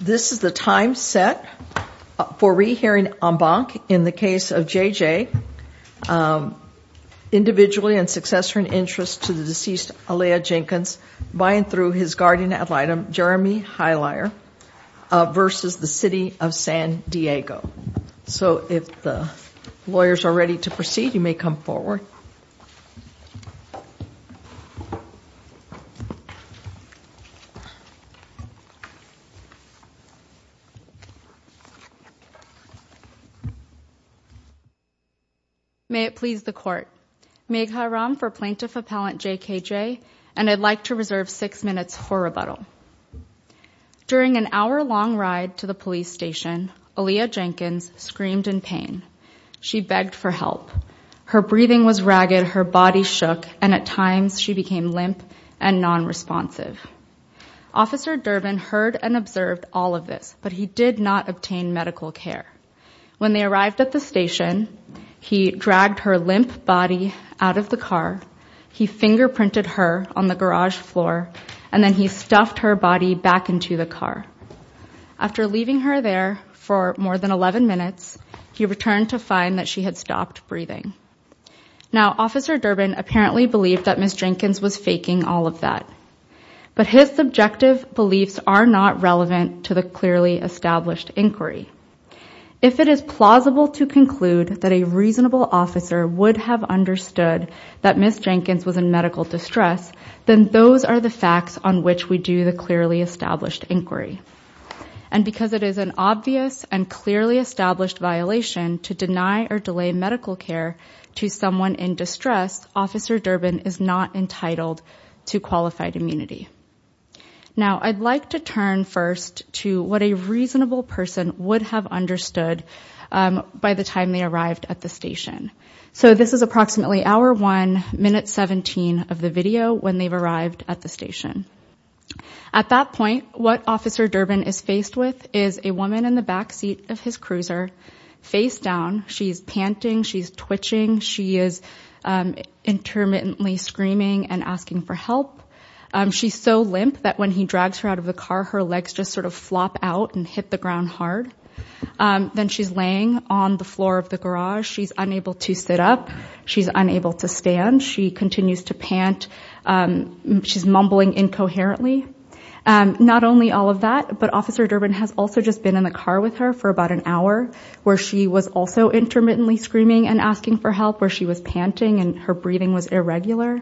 This is the time set for re-hearing en banc in the case of J. J. Individually and successor in interest to the deceased Alea Jenkins by and through his guardian ad litem Jeremy Highlier versus the City of San Diego So if the lawyers are ready to proceed you may come forward May it please the court, Meg Haram for Plaintiff Appellant J. K. J. and I'd like to reserve six minutes for rebuttal. During an hour-long ride to the police station, Alea Jenkins screamed in pain. She begged for help. Her breathing was ragged, her body shook, and at times she became limp and non-responsive. Officer Durbin heard and observed all of this, but he did not obtain medical care. When they arrived at the station, he dragged her limp body out of the car, he fingerprinted her on the garage floor, and then he stuffed her body back into the car. After leaving her there for more than 11 minutes, he returned to find that she had stopped breathing. Now, Officer Durbin apparently believed that Ms. Jenkins was faking all of that. But his subjective beliefs are not relevant to the clearly established inquiry. If it is plausible to conclude that a reasonable officer would have understood that Ms. Jenkins was in medical distress, then those are the facts on which we do the clearly established inquiry. And because it is an obvious and clearly established violation to deny or delay medical care to someone in distress, Officer Durbin is not entitled to qualified immunity. Now, I'd like to turn first to what a reasonable person would have understood by the time they arrived at the station. So, this is approximately hour 1, minute 17 of the video when they've arrived at the station. At that point, what Officer Durbin is faced with is a woman in the back seat of his cruiser, face down, she's panting, she's twitching, she is intermittently screaming and asking for help. She's so limp that when he drags her out of the car, her legs just sort of flop out and hit the ground hard. Then she's laying on the floor of the garage. She's unable to sit up. She's unable to stand. She continues to pant. She's mumbling incoherently. Not only all of that, but Officer Durbin has also just been in the car with her for about an hour, where she was also intermittently screaming and asking for help, where she was panting and her breathing was irregular,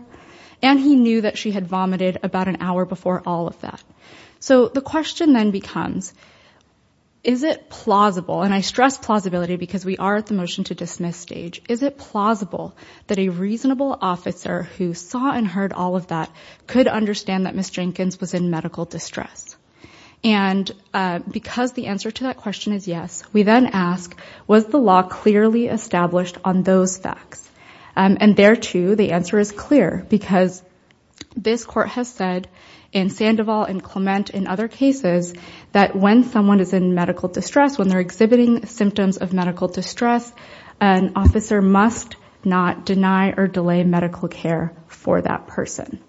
and he knew that she had vomited about an hour before all of that. So, the question then becomes, is it plausible, and I stress plausibility because we are at the motion-to-dismiss stage, is it plausible that a reasonable officer who saw and heard all of that could understand that Ms. Jenkins was in medical distress? And because the answer to that question is yes, we then ask, was the law clearly established on those facts? And there, too, the answer is clear because this court has said in Sandoval and Clement and other cases that when someone is in medical distress, when they're exhibiting symptoms of medical distress, an officer must not deny or delay medical care for that person.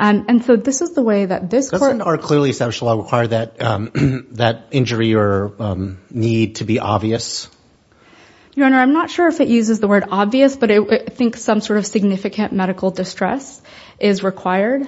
And so, this is the way that this court... Doesn't our clearly established law require that that injury or need to be obvious? Your Honor, I'm not sure if it uses the word obvious, but I think some sort of significant medical distress is required.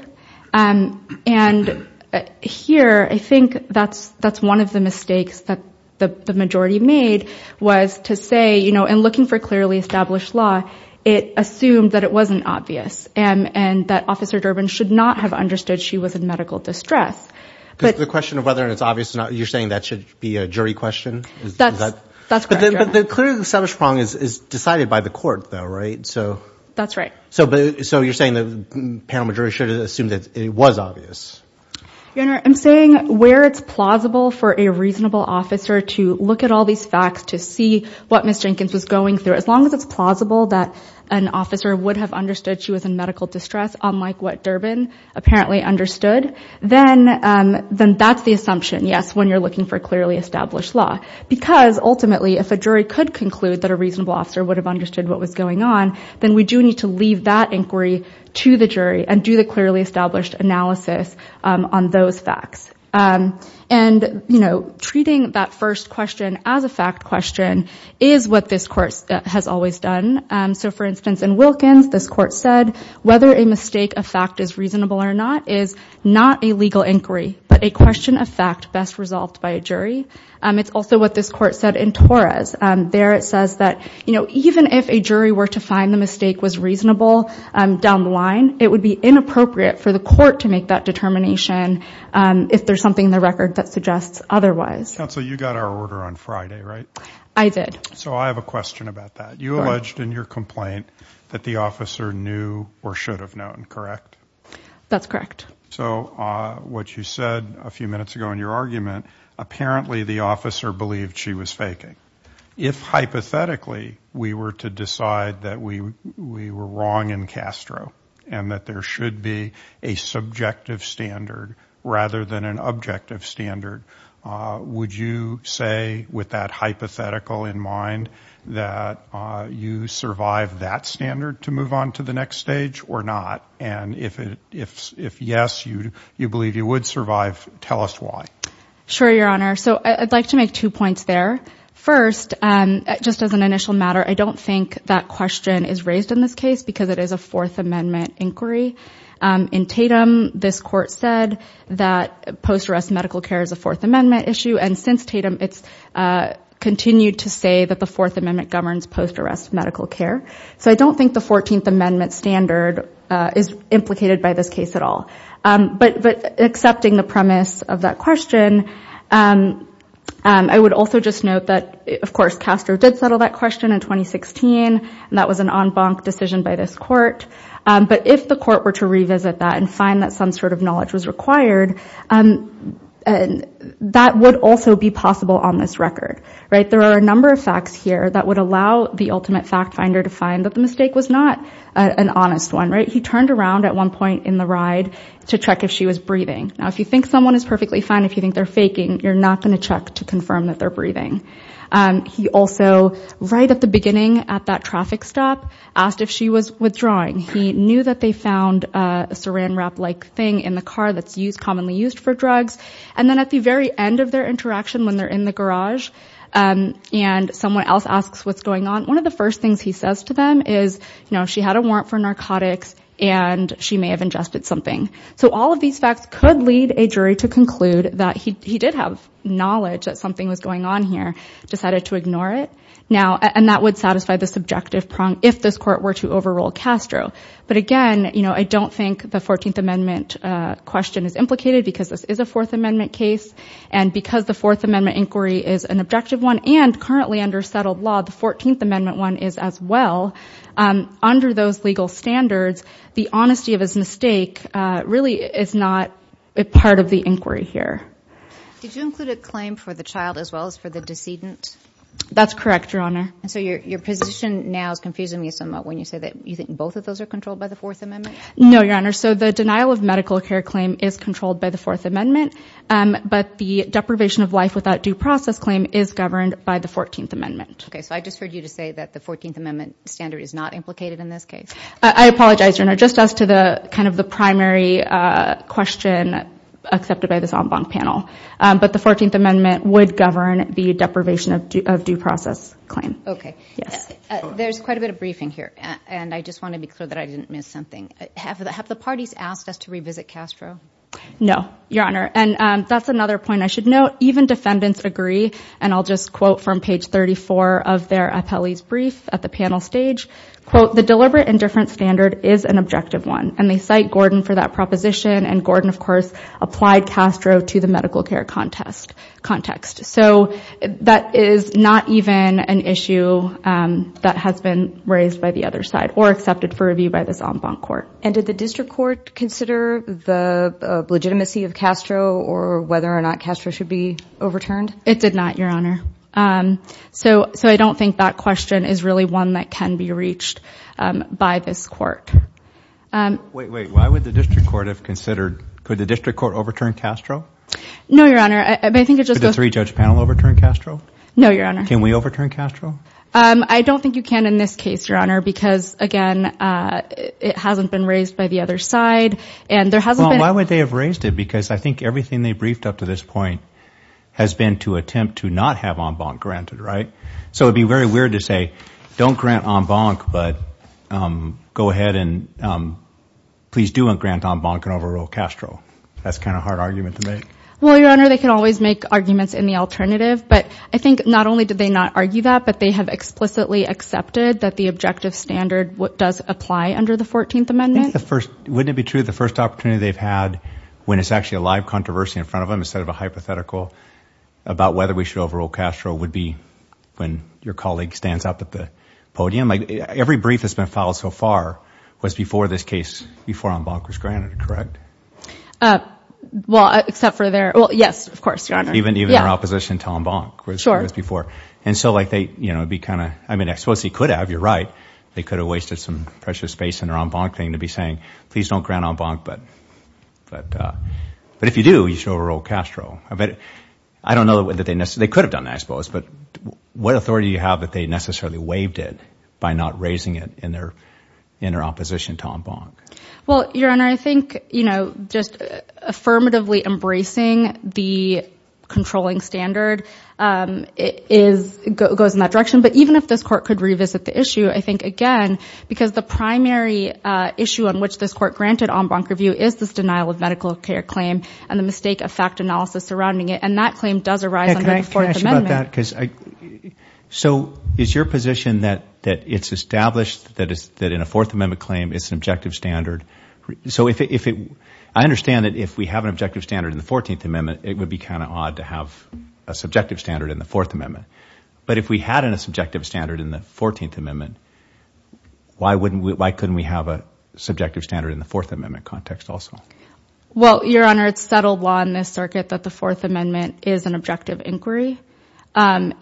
Here, I think that's one of the mistakes that the majority made was to say, you know, in looking for clearly established law, it assumed that it wasn't obvious and that Officer Durbin should not have understood she was in medical distress. But the question of whether it's obvious or not, you're saying that should be a jury question? That's correct. But the clearly established problem is decided by the court though, right? So... That's right. So, you're saying the panel majority should have assumed that it was obvious? Your Honor, I'm saying where it's plausible for a reasonable officer to look at all these facts to see what Ms. Durbin, if it's plausible that an officer would have understood she was in medical distress, unlike what Durbin apparently understood, then that's the assumption, yes, when you're looking for clearly established law. Because, ultimately, if a jury could conclude that a reasonable officer would have understood what was going on, then we do need to leave that inquiry to the jury and do the clearly established analysis on those facts. And, you know, treating that first question as a fact question is what this court has always done. So, for instance, in Wilkins, this court said, whether a mistake of fact is reasonable or not is not a legal inquiry, but a question of fact best resolved by a jury. It's also what this court said in Torres. There, it says that, you know, even if a jury were to find the mistake was reasonable down the line, it would be inappropriate for the court to make that determination if there's something in the record that suggests otherwise. Counsel, you got our order on Friday, right? I did. So, I have a question about that. You alleged in your complaint that the officer knew or should have known, correct? That's correct. So, what you said a few minutes ago in your argument, apparently the officer believed she was faking. If, hypothetically, we were to decide that we were wrong in Castro and that there should be a subjective standard rather than an objective standard, would you say, with that hypothetical in mind, that you survived that standard to move on to the next stage or not? And if yes, you believe you would survive, tell us why. Sure, Your Honor. So, I'd like to make two points there. First, just as an initial matter, I don't think that question is raised in this case because it is a Fourth Amendment inquiry. In Tatum, this court said that post-arrest medical care is a Fourth Amendment issue. And since Tatum, it's continued to say that the Fourth Amendment governs post-arrest medical care. So, I don't think the Fourteenth Amendment standard is implicated by this case at all. But, accepting the premise of that question, I would also just note that, of course, Castro did settle that question in 2016. And that was an en banc decision by this court. But, if the court were to revisit that and find that some sort of knowledge was required, that would also be possible on this record, right? There are a number of facts here that would allow the ultimate fact finder to find that the mistake was not an honest one, right? He turned around at one point in the ride to check if she was breathing. Now, if you think someone is perfectly fine, if you think they're faking, you're not going to check to confirm that they're breathing. He also, right at the beginning at that traffic stop, asked if she was withdrawing. He knew that they found a saran wrap-like thing in the car that's used commonly used for drugs. And then, at the very end of their interaction, when they're in the garage, and someone else asks what's going on, one of the first things he says to them is, you know, she had a warrant for narcotics and she may have ingested something. So, all of these facts could lead a jury to conclude that he did have knowledge that something was going on here, decided to ignore it. Now, and that would satisfy the subjective prong if this court were to overrule Castro. But again, you know, I don't think the 14th Amendment question is implicated because this is a Fourth Amendment case and because the Fourth Amendment inquiry is an objective one and currently under settled law, the 14th Amendment one is as well. Under those legal standards, the honesty of his mistake really is not a part of the inquiry here. Did you include a claim for the child as well as for the decedent? That's correct, Your Honor. And so, your position now is confusing me somewhat when you say that you think both of those are controlled by the Fourth Amendment? No, Your Honor. So, the denial of medical care claim is controlled by the Fourth Amendment, but the deprivation of life without due process claim is governed by the 14th Amendment. Okay, so I just heard you to say that the 14th Amendment standard is not implicated in this case. I apologize, Your Honor. Just as to the kind of the primary question accepted by this en banc panel, but the 14th Amendment would govern the deprivation of due process claim. Okay. Yes. There's quite a bit of briefing here, and I just want to be clear that I didn't miss something. Have the parties asked us to revisit Castro? No, Your Honor. And that's another point I should note. Even defendants agree, and I'll just quote from page 34 of their appellee's brief at the panel stage, quote, the deliberate and different standard is an objective one. And they cite Gordon for that proposition, and Gordon, of course, applied Castro to the medical care context. So, that is not even an issue that has been raised by the other side or accepted for review by this en banc court. And did the district court consider the legitimacy of Castro or whether or not Castro should be overturned? It did not, Your Honor. So, I don't think that question is really one that can be reached by this court. Wait, wait. Why would the district court have considered, could the district court overturn Castro? No, Your Honor. I think it just goes... Could the three-judge panel overturn Castro? No, Your Honor. Can we overturn Castro? I don't think you can in this case, Your Honor, because again, it hasn't been raised by the other side and there hasn't been... Why would they have raised it? Because I think everything they briefed up to this point has been to attempt to not have en banc granted, right? So, it'd be very weird to say, don't grant en banc, but go ahead and please do grant en banc and overrule Castro. That's kind of a hard argument to make. Well, Your Honor, they can always make arguments in the alternative, but I think not only did they not argue that, but they have explicitly accepted that the objective standard does apply under the 14th Amendment. Wouldn't it be true the first opportunity they've had, when it's actually a live controversy in front of them, instead of a hypothetical about whether we should overrule Castro, would be when your colleague stands up at the podium? Like, every brief that's been filed so far was before this case, before en banc was granted, correct? Well, except for their... Well, yes, of course, Your Honor. Even their opposition to en banc was before. Sure. And so, like, they, you know, be kind of... I mean, I suppose they could have, you're right. They could have wasted some precious space in their en banc thing to be saying, please don't grant en banc, but if you do, you should overrule Castro. But I don't know that they necessarily... they could have done that, I suppose, but what authority do you have that they necessarily waived it by not raising it in their inner opposition to en banc? Well, Your Honor, I think, you know, just affirmatively embracing the controlling standard goes in that direction. But even if this court could revisit the issue, I think, again, because the primary issue on which this court granted en banc review is this denial of medical care claim and the mistake of fact analysis surrounding it. And that claim does arise under the Fourth Amendment. Can I ask you about that? So is your position that it's established that in a Fourth Amendment claim, it's an objective standard? So if it... I understand that if we have an objective standard in the Fourteenth Amendment, it would be kind of odd to have a subjective standard in the Fourth Amendment. But if we had a subjective standard in the Fourteenth Amendment, why wouldn't we... why couldn't we have a subjective standard in the Fourth Amendment context also? Well, Your Honor, it's settled law in this circuit that the Fourth Amendment is an objective inquiry. And,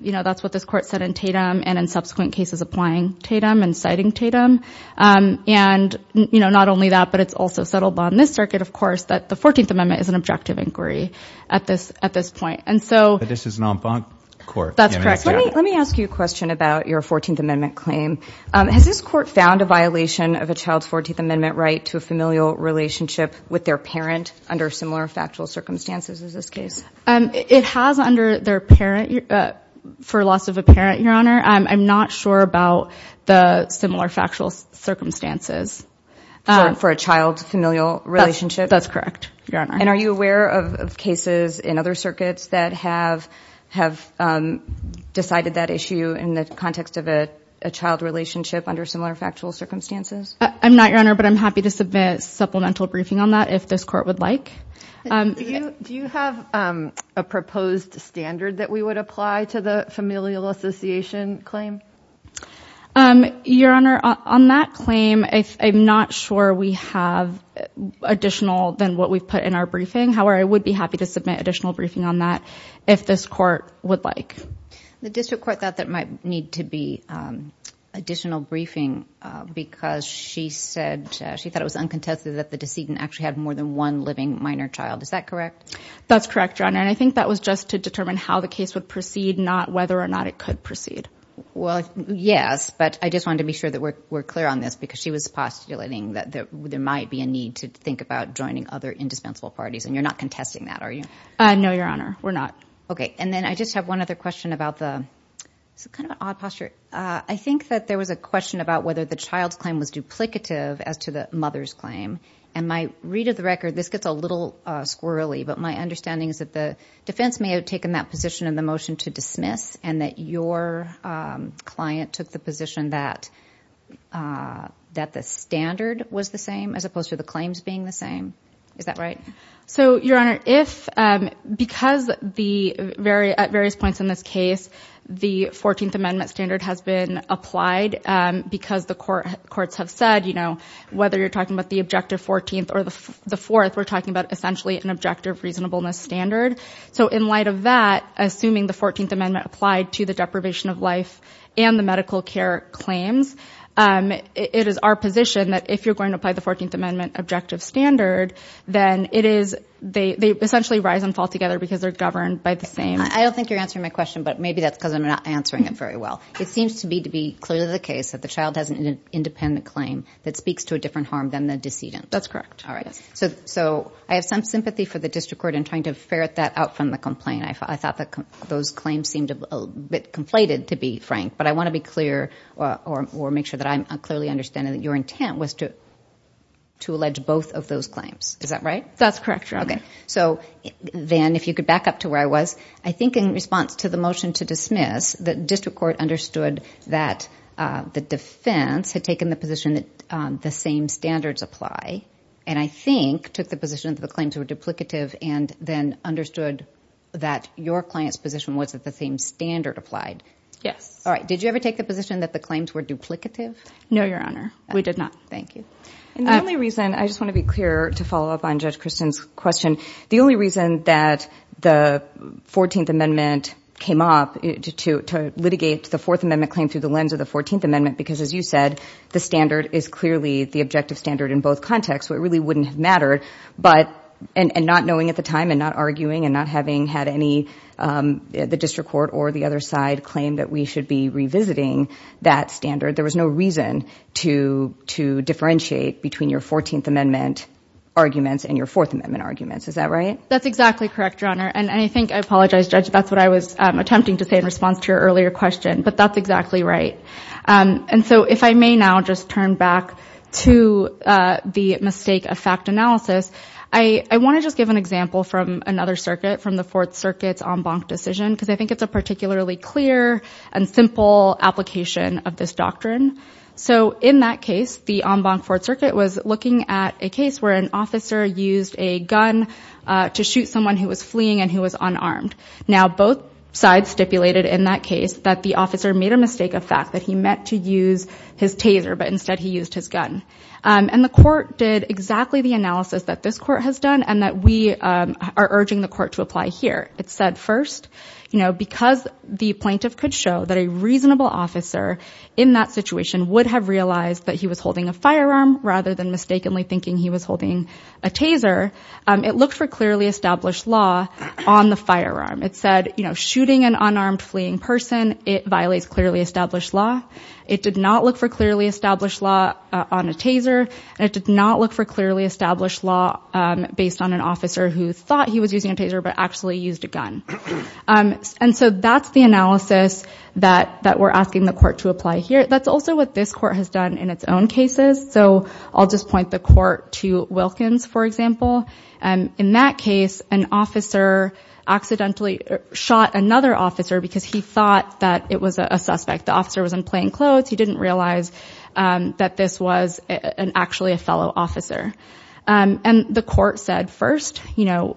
you know, that's what this court said in Tatum and in subsequent cases applying Tatum and citing Tatum. And, you know, not only that, but it's also settled law in this circuit, of course, that the Fourteenth Amendment is an objective inquiry at this... at this point. And so... But this is an en banc court. That's correct. Let me ask you a question about your Fourteenth Amendment claim. Has this court found a violation of a child's Fourteenth Amendment right to a familial relationship with their parent under similar factual circumstances as this case? It has under their parent... for loss of a parent, Your Honor. I'm not sure about the similar factual circumstances. For a child's familial relationship? That's correct, Your Honor. And are you aware of cases in other circuits that have decided that issue in the context of a child relationship under similar factual circumstances? I'm not, Your Honor, but I'm happy to submit supplemental briefing on that if this court would like. Do you have a proposed standard that we would apply to the familial association claim? Your Honor, on that claim, I'm not sure we have additional than what we've put in our briefing. However, I would be happy to submit additional briefing on that if this court would like. The district court thought that might need to be additional briefing because she said... she thought it was uncontested that the decedent actually had more than one living minor child. Is that correct? That's correct, Your Honor. And I think that was just to determine how the case would proceed, not whether or not it could proceed. Well, yes, but I just wanted to be sure that we're clear on this because she was postulating that there might be a need to think about joining other indispensable parties, and you're not contesting that, are you? No, Your Honor, we're not. Okay, and then I just have one other question about the... it's kind of an odd posture. I think that there was a question about whether the child's claim was duplicative as to the mother's claim. And my read of the record, this gets a little squirrely, but my understanding is that the defense may have taken that position in the motion to dismiss and that your client took the position that the standard was the same as opposed to the claims being the same. Is that right? So, Your Honor, because at various points in this case, the 14th Amendment standard has been applied because the courts have said, you know, whether you're talking about the objective 14th or the 4th, we're talking about essentially an objective reasonableness standard. So in light of that, assuming the 14th Amendment applied to the deprivation of life and the medical care claims, it is our position that if you're going to apply the 14th Amendment objective standard, then it is... they essentially rise and fall together because they're governed by the same... I don't think you're answering my question, but maybe that's because I'm not answering it very well. It seems to me to be clearly the case that the child has an independent claim that speaks to a different harm than the decedent. That's correct. All right. So I have some sympathy for the district court in trying to ferret that out from the complaint. I thought that those claims seemed a bit conflated, to be frank, but I want to be clear or make sure that I'm clearly understanding that your intent was to allege both of those claims. Is that right? That's correct, Your Honor. Okay. So then if you could back up to where I was, I think in response to the motion to dismiss, the district court understood that the defense had taken the position that the same standards apply. And I think took the position that the claims were duplicative and then understood that your client's position was that the same standard applied. Yes. All right. Did you ever take the position that the claims were duplicative? No, Your Honor. We did not. Thank you. And the only reason... I just want to be clear to follow up on Judge Kristen's question. The only reason that the 14th Amendment came up to litigate the Fourth Amendment claim through the lens of the 14th Amendment, because as you said, the standard is clearly the objective standard in both contexts, so it really wouldn't have mattered. And not knowing at the time and not arguing and not having had the district court or the other side claim that we should be revisiting that standard, there was no reason to differentiate between your 14th Amendment arguments and your Fourth Amendment arguments. Is that right? That's exactly correct, Your Honor. And I think, I apologize, Judge, that's what I was attempting to say in response to your earlier question, but that's exactly right. And so if I may now just turn back to the mistake of fact analysis, I want to just give an example from another circuit, from the Fourth Circuit's en banc decision, because I think it's a particularly clear and simple application of this doctrine. So in that case, the en banc Fourth Circuit was looking at a case where an officer used a gun to shoot someone who was fleeing and who was unarmed. Now, both sides stipulated in that case that the officer made a mistake of fact, that he meant to use his taser, but instead he used his gun. And the court did exactly the analysis that this court has done and that we are urging the court to apply here. It said first, because the plaintiff could show that a reasonable officer in that situation would have realized that he was holding a firearm rather than mistakenly thinking he was holding a taser, it looked for clearly established law on the firearm. It said, you know, shooting an unarmed fleeing person, it violates clearly established law. It did not look for clearly established law on a taser. And it did not look for clearly established law based on an officer who thought he was using a taser, but actually used a gun. And so that's the analysis that we're asking the court to apply here. That's also what this court has done in its own cases. So I'll just point the court to Wilkins, for example. In that case, an officer accidentally shot another officer because he thought that it was a suspect. The officer was in plain clothes. He didn't realize that this was actually a fellow officer. And the court said first, you know,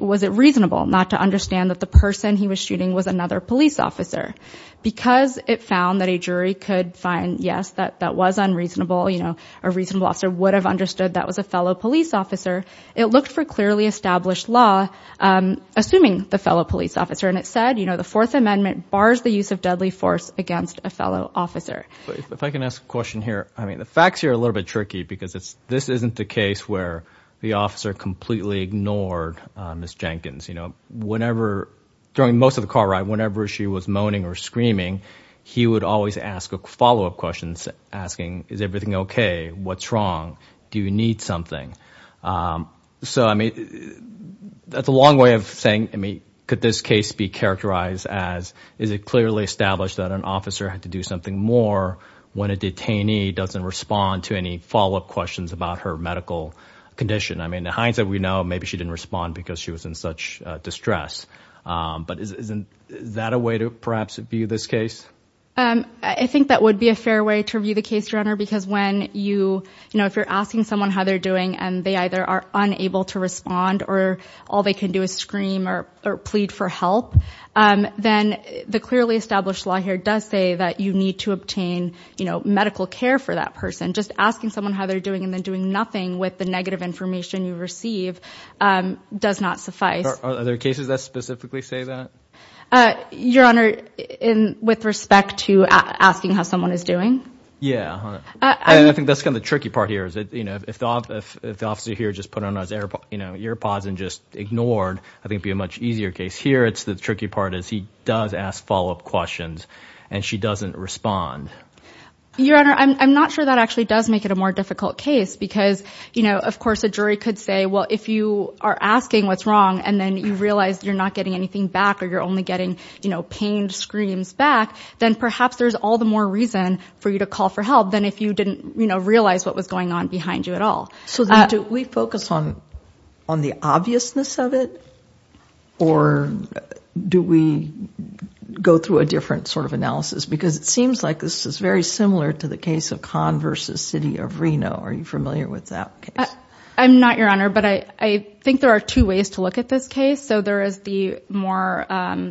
was it reasonable not to understand that the person he was shooting was another police officer? Because it found that a jury could find, yes, that that was unreasonable. You know, a reasonable officer would have understood that was a fellow police officer. It looked for clearly established law, assuming the fellow police officer. And it said, you know, the Fourth Amendment bars the use of deadly force against a fellow officer. If I can ask a question here. I mean, the facts here are a little bit tricky because it's, this isn't the case where the officer completely ignored Ms. Jenkins. You know, whenever, during most of the car ride, whenever she was moaning or screaming, he would always ask a follow-up question, asking, is everything okay? What's wrong? Do you need something? So, I mean, that's a long way of saying, I mean, could this case be characterized as, is it clearly established that an officer had to do something more when a detainee doesn't respond to any follow-up questions about her medical condition? I mean, the hindsight we know, maybe she didn't respond because she was in such distress. But isn't that a way to perhaps view this case? I think that would be a fair way to view the case, Your Honor, because when you, you know, if you're asking someone how they're doing and they either are unable to respond or all they can do is scream or plead for help, then the clearly established law here does say that you need to obtain, you know, medical care for that person. Just asking someone how they're doing and then doing nothing with the negative information you receive does not suffice. Are there cases that specifically say that? Your Honor, in, with respect to asking how someone is doing? Yeah, I think that's kind of the tricky part here is that, if the officer here just put on his ear pods and just ignored, I think it'd be a much easier case. Here, it's the tricky part is he does ask follow-up questions and she doesn't respond. Your Honor, I'm not sure that actually does make it a more difficult case because, you know, of course a jury could say, well, if you are asking what's wrong and then you realize you're not getting anything back or you're only getting, you know, pained screams back, then perhaps there's all the more reason for you to call for help than if you didn't, you know, realize what was going on behind you at all. So do we focus on the obviousness of it or do we go through a different sort of analysis? Because it seems like this is very similar to the case of Conn versus City of Reno. Are you familiar with that case? I'm not, Your Honor, but I think there are two ways to look at this case. So there is the more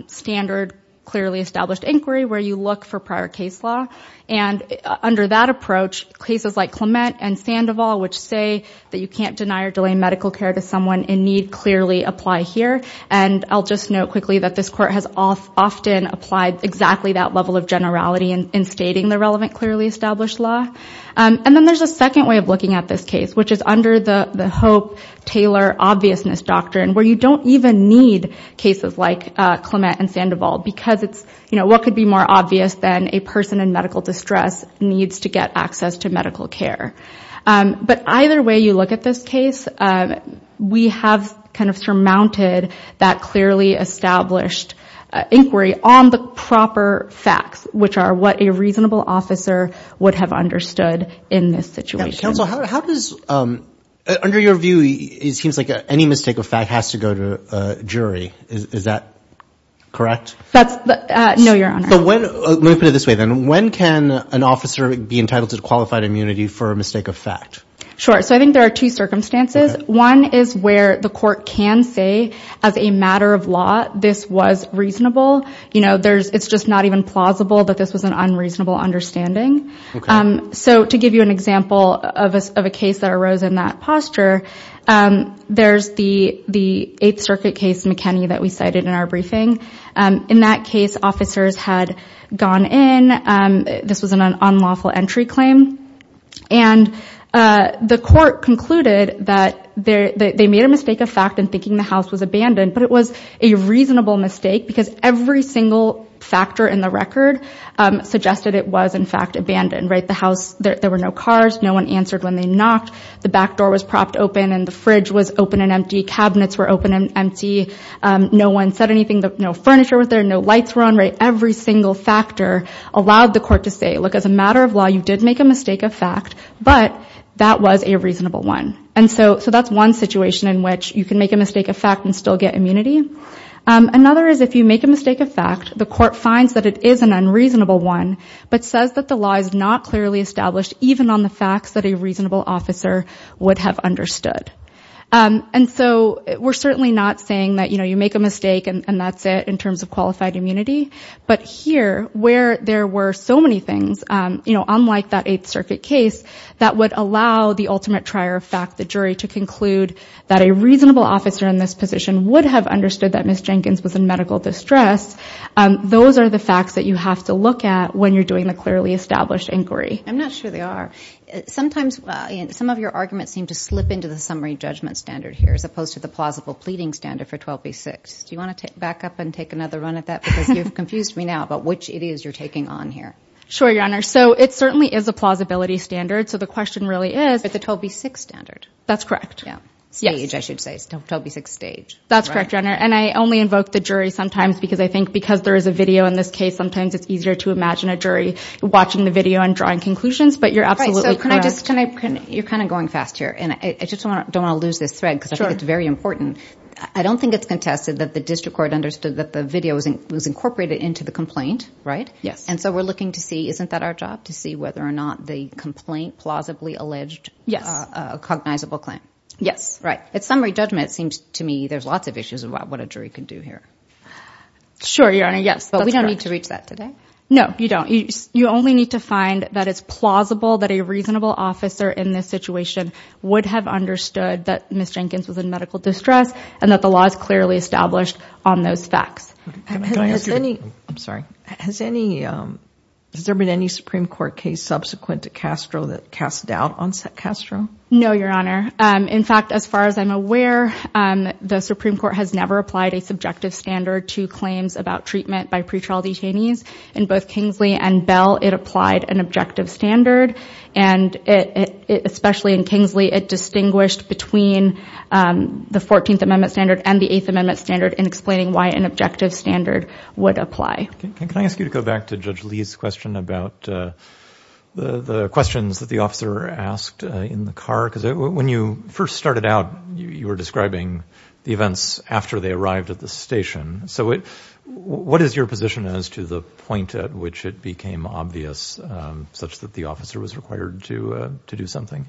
standard, clearly established inquiry where you look for prior case law and under that approach, cases like Clement and Sandoval, which say that you can't deny or delay medical care to someone in need, clearly apply here. And I'll just note quickly that this court has often applied exactly that level of generality in stating the relevant, clearly established law. And then there's a second way of looking at this case, which is under the Hope-Taylor obviousness doctrine where you don't even need cases like Clement and Sandoval because it's what could be more obvious than a person in medical distress needs to get access to medical care. But either way you look at this case, we have kind of surmounted that clearly established inquiry on the proper facts, which are what a reasonable officer would have understood in this situation. Counsel, how does... Under your view, it seems like any mistake of fact has to go to a jury. Is that correct? No, Your Honor. But let me put it this way then. When can an officer be entitled to qualified immunity for a mistake of fact? Sure. So I think there are two circumstances. One is where the court can say as a matter of law, this was reasonable. It's just not even plausible that this was an unreasonable understanding. So to give you an example of a case that arose in that posture, there's the Eighth Circuit case McKinney that we cited in our briefing. In that case, officers had gone in. This was an unlawful entry claim. And the court concluded that they made a mistake of fact in thinking the house was abandoned, but it was a reasonable mistake because every single factor in the record suggested it was in fact abandoned, right? The house, there were no cars. No one answered when they knocked. The back door was propped open and the fridge was open and empty. Cabinets were open and empty. No one said anything. No furniture was there. No lights were on, right? Every single factor allowed the court to say, look, as a matter of law, you did make a mistake of fact, but that was a reasonable one. And so that's one situation in which you can make a mistake of fact and still get immunity. Another is if you make a mistake of fact, the court finds that it is an unreasonable one, but says that the law is not clearly established even on the facts that a reasonable officer would have understood. And so we're certainly not saying that, you know, you make a mistake and that's it in terms of qualified immunity. But here where there were so many things, you know, unlike that Eighth Circuit case, that would allow the ultimate trier of fact, the jury to conclude that a reasonable officer in this position would have understood that Ms. Jenkins was in medical distress. Those are the facts that you have to look at when you're doing the clearly established inquiry. I'm not sure they are. Sometimes some of your arguments seem to slip into the summary judgment standard here, as opposed to the plausible pleading standard for 12B6. Do you want to back up and take another run at that? Because you've confused me now about which it is you're taking on here. Sure, Your Honor. So it certainly is a plausibility standard. So the question really is. But the 12B6 standard. That's correct. Yeah. Stage, I should say, 12B6 stage. That's correct, Your Honor. And I only invoke the jury sometimes because I think because there is a video in this case, sometimes it's easier to imagine a jury watching the video and drawing conclusions. But you're absolutely correct. You're kind of going fast here. And I just don't want to lose this thread because I think it's very important. I don't think it's contested that the district court understood that the video was incorporated into the complaint, right? Yes. And so we're looking to see, isn't that our job? To see whether or not the complaint plausibly alleged a cognizable claim. Yes. Right. At summary judgment, it seems to me there's lots of issues about what a jury can do here. Sure, Your Honor. Yes. But we don't need to reach that today. No, you don't. You only need to find that it's plausible that a reasonable officer in this situation would have understood that Ms. Jenkins was in medical distress and that the law is clearly established on those facts. I'm sorry. Has there been any Supreme Court case subsequent to Castro that cast doubt on Castro? No, Your Honor. In fact, as far as I'm aware, the Supreme Court has never applied a subjective standard to claims about treatment by pretrial detainees. In both Kingsley and Bell, it applied an objective standard. And especially in Kingsley, it distinguished between the 14th Amendment standard and the 8th Amendment standard in explaining why an objective standard would apply. Can I ask you to go back to Judge Lee's question about the questions that the officer asked in the car? Because when you first started out, you were describing the events after they arrived at the station. So what is your position as to the point at which it became obvious such that the officer was required to do something?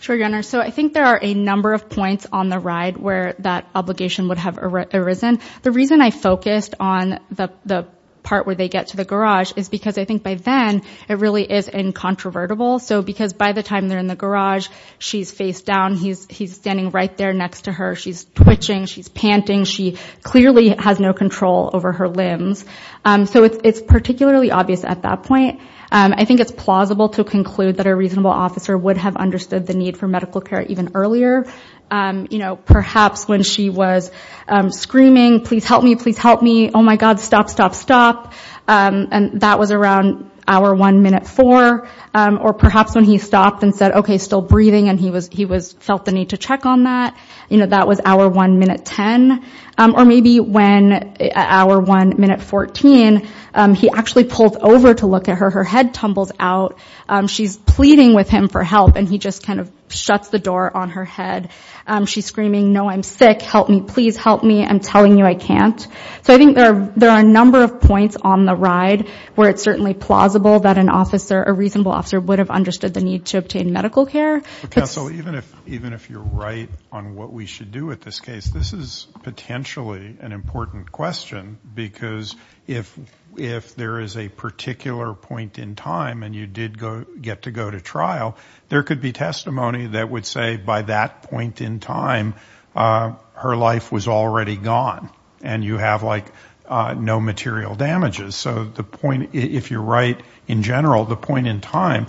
Sure, Your Honor. So I think there are a number of points on the ride where that obligation would have arisen. The reason I focused on the part where they get to the garage is because I think by then, it really is incontrovertible. So because by the time they're in the garage, she's face down, he's standing right there next to her. She's twitching, she's panting. She clearly has no control over her limbs. So it's particularly obvious at that point. I think it's plausible to conclude that a reasonable officer would have understood the need for medical care even earlier. Perhaps when she was screaming, please help me, please help me. Oh my God, stop, stop, stop. And that was around hour one, minute four. Or perhaps when he stopped and said, okay, still breathing. And he felt the need to check on that. That was hour one, minute 10. Or maybe when hour one, minute 14, he actually pulled over to look at her. Her head tumbles out. She's pleading with him for help. And he just kind of shuts the door on her head. She's screaming, no, I'm sick. Help me, please help me. I'm telling you I can't. So I think there are a number of points on the ride where it's certainly plausible that a reasonable officer would have understood the need to obtain medical care. Counsel, even if you're right on what we should do with this case, this is potentially an important question. Because if there is a particular point in time, and you did get to go to trial, there could be testimony that would say by that point in time, her life was already gone. And you have like no material damages. So the point, if you're right, in general, the point in time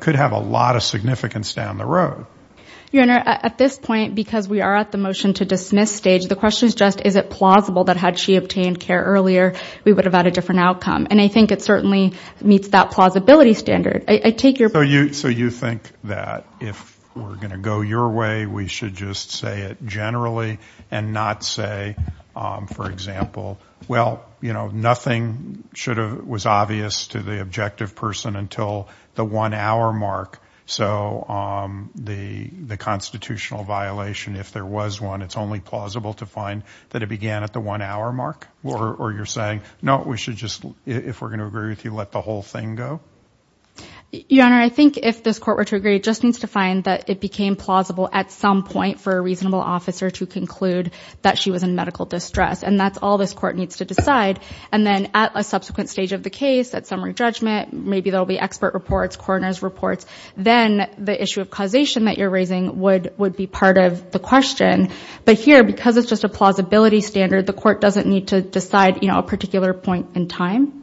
could have a lot of significance down the road. Your Honor, at this point, because we are at the motion to dismiss stage, the question is just, is it plausible that had she obtained care earlier, we would have had a different outcome? And I think it certainly meets that plausibility standard. I take your point. So you think that if we're going to go your way, we should just say it generally and not say, for example, well, you know, nothing should have, was obvious to the objective person until the one hour mark. So the constitutional violation, if there was one, it's only plausible to find that it began at the one hour mark? Or you're saying, no, we should just, if we're going to agree with you, let the whole thing go? Your Honor, I think if this court were to agree, it just needs to find that it became plausible at some point for a reasonable officer to conclude that she was in medical distress. And that's all this court needs to decide. And then at a subsequent stage of the case, at summary judgment, maybe there'll be expert reports, coroner's reports, then the issue of causation that you're raising would be part of the question. But here, because it's just a plausibility standard, the court doesn't need to decide, you know, a particular point in time.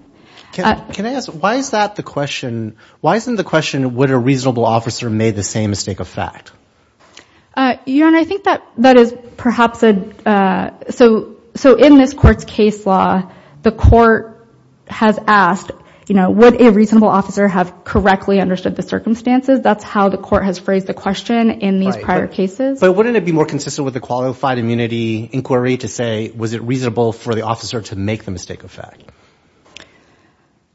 Can I ask, why is that the question? Why isn't the question, would a reasonable officer made the same mistake of fact? Your Honor, I think that that is perhaps a, so in this court's case law, the court has asked, you know, would a reasonable officer have correctly understood the circumstances? That's how the court has phrased the question in these prior cases. But wouldn't it be more consistent with the qualified immunity inquiry to say, was it reasonable for the officer to make the mistake of fact?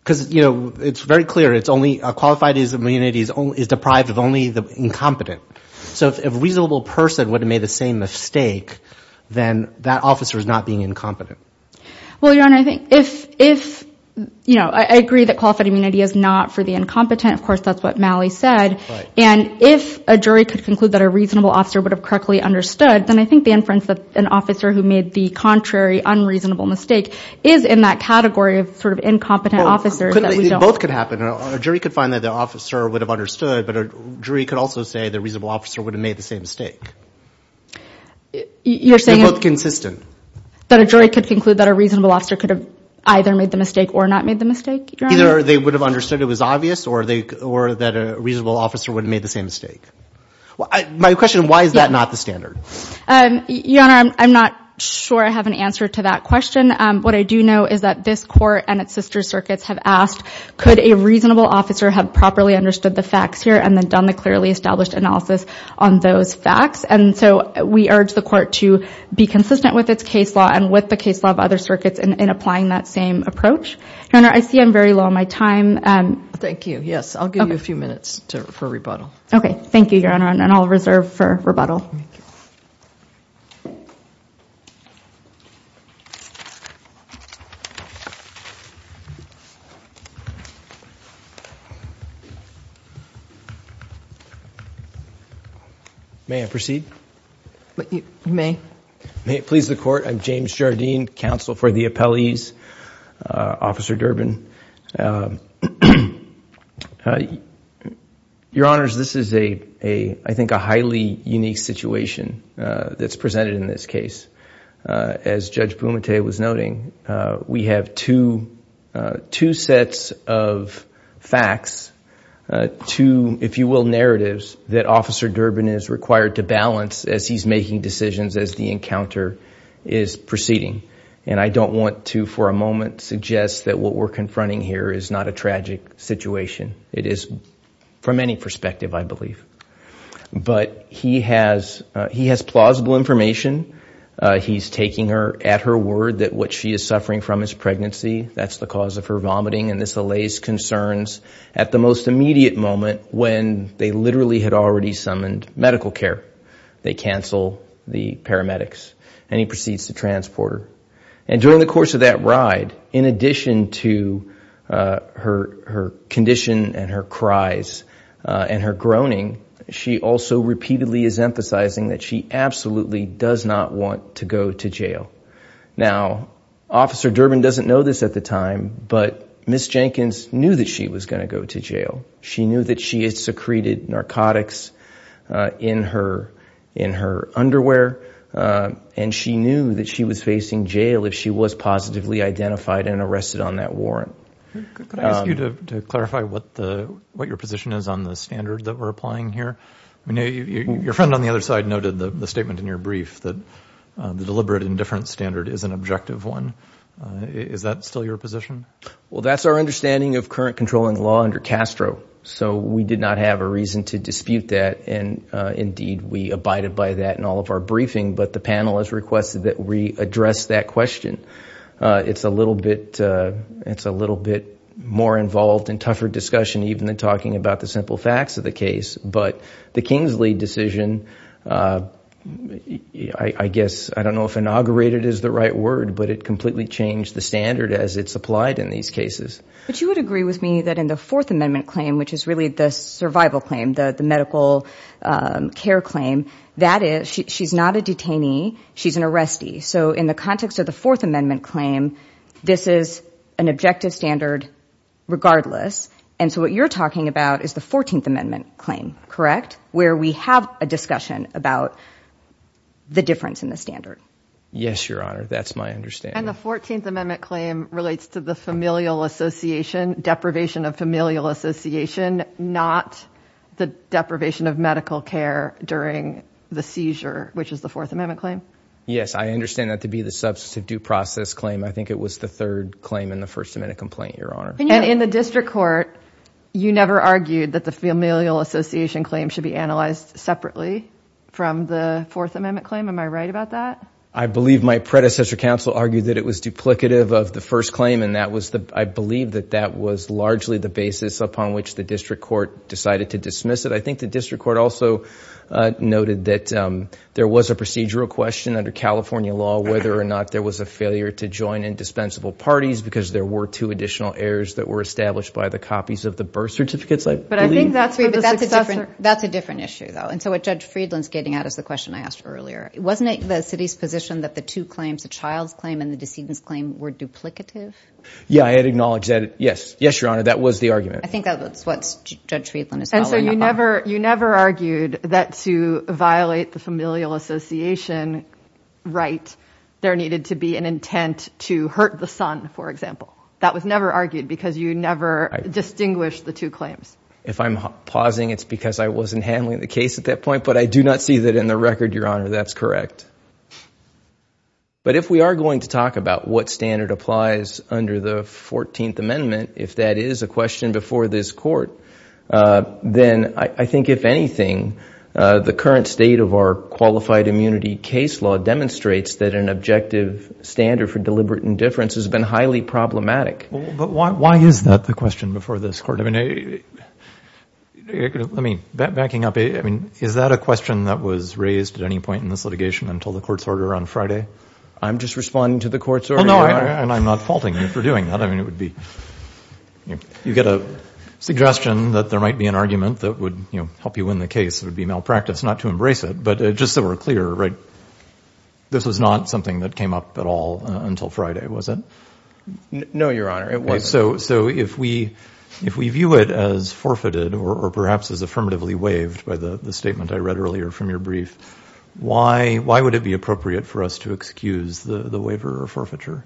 Because, you know, it's very clear, it's only, qualified immunity is deprived of only the incompetent. So if a reasonable person would have made the same mistake, then that officer is not being incompetent. Well, Your Honor, I think if, you know, I agree that qualified immunity is not for the incompetent. Of course, that's what Malley said. And if a jury could conclude that a reasonable officer would have correctly understood, then I think the inference that an officer who made the contrary unreasonable mistake is in that category of sort of incompetent officers that we don't. Both could happen. A jury could find that the officer would have understood, but a jury could also say the reasonable officer would have made the same mistake. You're saying... They're both consistent. That a jury could conclude that a reasonable officer could have either made the mistake or not made the mistake, Your Honor? Either they would have understood it was obvious, or that a reasonable officer would have made the same mistake. My question, why is that not the standard? Your Honor, I'm not sure I have an answer to that question. What I do know is that this court and its sister circuits have asked, could a reasonable officer have properly understood the facts here and then done the clearly established analysis on those facts? And so we urge the court to be consistent with its case law and with the case law of other circuits in applying that same approach. Your Honor, I see I'm very low on my time. Thank you. Yes, I'll give you a few minutes for rebuttal. Okay. Thank you, Your Honor. And I'll reserve for rebuttal. Thank you. May I proceed? You may. May it please the court. I'm James Jardine, counsel for the appellees, Officer Durbin. Your Honors, this is, I think, a highly unique situation that's presented in this case. As Judge Bumate was noting, we have two sets of facts, two, if you will, narratives that Officer Durbin is required to balance as he's making decisions, as the encounter is proceeding. And I don't want to, for a moment, suggest that what we're confronting here is not a tragic situation. It is from any perspective, I believe. But he has plausible information. He's taking her at her word that what she is suffering from is pregnancy. That's the cause of her vomiting. And this allays concerns at the most immediate moment when they literally had already summoned medical care. They cancel the paramedics. And he proceeds to transport her. And during the course of that ride, in addition to her condition and her cries and her groaning, she also repeatedly is emphasizing that she absolutely does not want to go to jail. Now, Officer Durbin doesn't know this at the time, but Ms. Jenkins knew that she was going to go to jail. She knew that she had secreted narcotics in her underwear. And she knew that she was facing jail if she was positively identified and arrested on that warrant. Could I ask you to clarify what your position is on the standard that we're applying here? Your friend on the other side noted the statement in your brief that the deliberate indifference standard is an objective one. Is that still your position? Well, that's our understanding of current controlling law under Castro. So we did not have a reason to dispute that. And indeed, we abided by that in all of our briefing. But the panel has requested that we address that question. It's a little bit more involved and tougher discussion even than talking about the simple facts of the case. But the Kingsley decision, I guess, I don't know if inaugurated is the right word, but it completely changed the standard as it's applied in these cases. But you would agree with me that in the Fourth Amendment claim, which is really the survival claim, the medical care claim, that is she's not a detainee. She's an arrestee. So in the context of the Fourth Amendment claim, this is an objective standard regardless. And so what you're talking about is the 14th Amendment claim, correct? Where we have a discussion about the difference in the standard. Yes, Your Honor. That's my understanding. And the 14th Amendment claim relates to the familial association, deprivation of familial association, not the deprivation of medical care during the seizure, which is the Fourth Amendment claim. Yes, I understand that to be the substantive due process claim. I think it was the third claim in the First Amendment complaint, Your Honor. And in the district court, you never argued that the familial association claim should be analyzed separately from the Fourth Amendment claim. Am I right about that? I believe my predecessor counsel argued that it was duplicative of the first claim. I believe that that was largely the basis upon which the district court decided to dismiss it. I think the district court also noted that there was a procedural question under California law whether or not there was a failure to join indispensable parties because there were two additional errors that were established by the copies of the birth certificates, I believe. But I think that's a different issue, though. And so what Judge Friedland's getting at is the question I asked earlier. Wasn't it the city's position that the two claims, the child's claim and the decedent's claim, were duplicative? Yeah, I had acknowledged that. Yes. Yes, Your Honor. That was the argument. I think that's what Judge Friedland is following up on. And so you never argued that to violate the familial association right, there needed to be an intent to hurt the son, for example. That was never argued because you never distinguished the two claims. If I'm pausing, it's because I wasn't handling the case at that point. But I do not see that in the record, Your Honor. That's correct. But if we are going to talk about what standard applies under the 14th Amendment, if that is a question before this Court, then I think, if anything, the current state of our qualified immunity case law demonstrates that an objective standard for deliberate indifference has been highly problematic. But why is that the question before this Court? I mean, backing up, is that a question that was raised at any point in this litigation until the Court's order on Friday? I'm just responding to the Court's order. Well, no, and I'm not faulting you for doing that. I mean, it would be, you get a suggestion that there might be an argument that would help you win the case. It would be malpractice not to embrace it. But just so we're clear, right, this was not something that came up at all until Friday, was it? No, Your Honor, it wasn't. So if we view it as forfeited or perhaps as affirmatively waived by the statement I read Why would it be appropriate for us to excuse the waiver or forfeiture?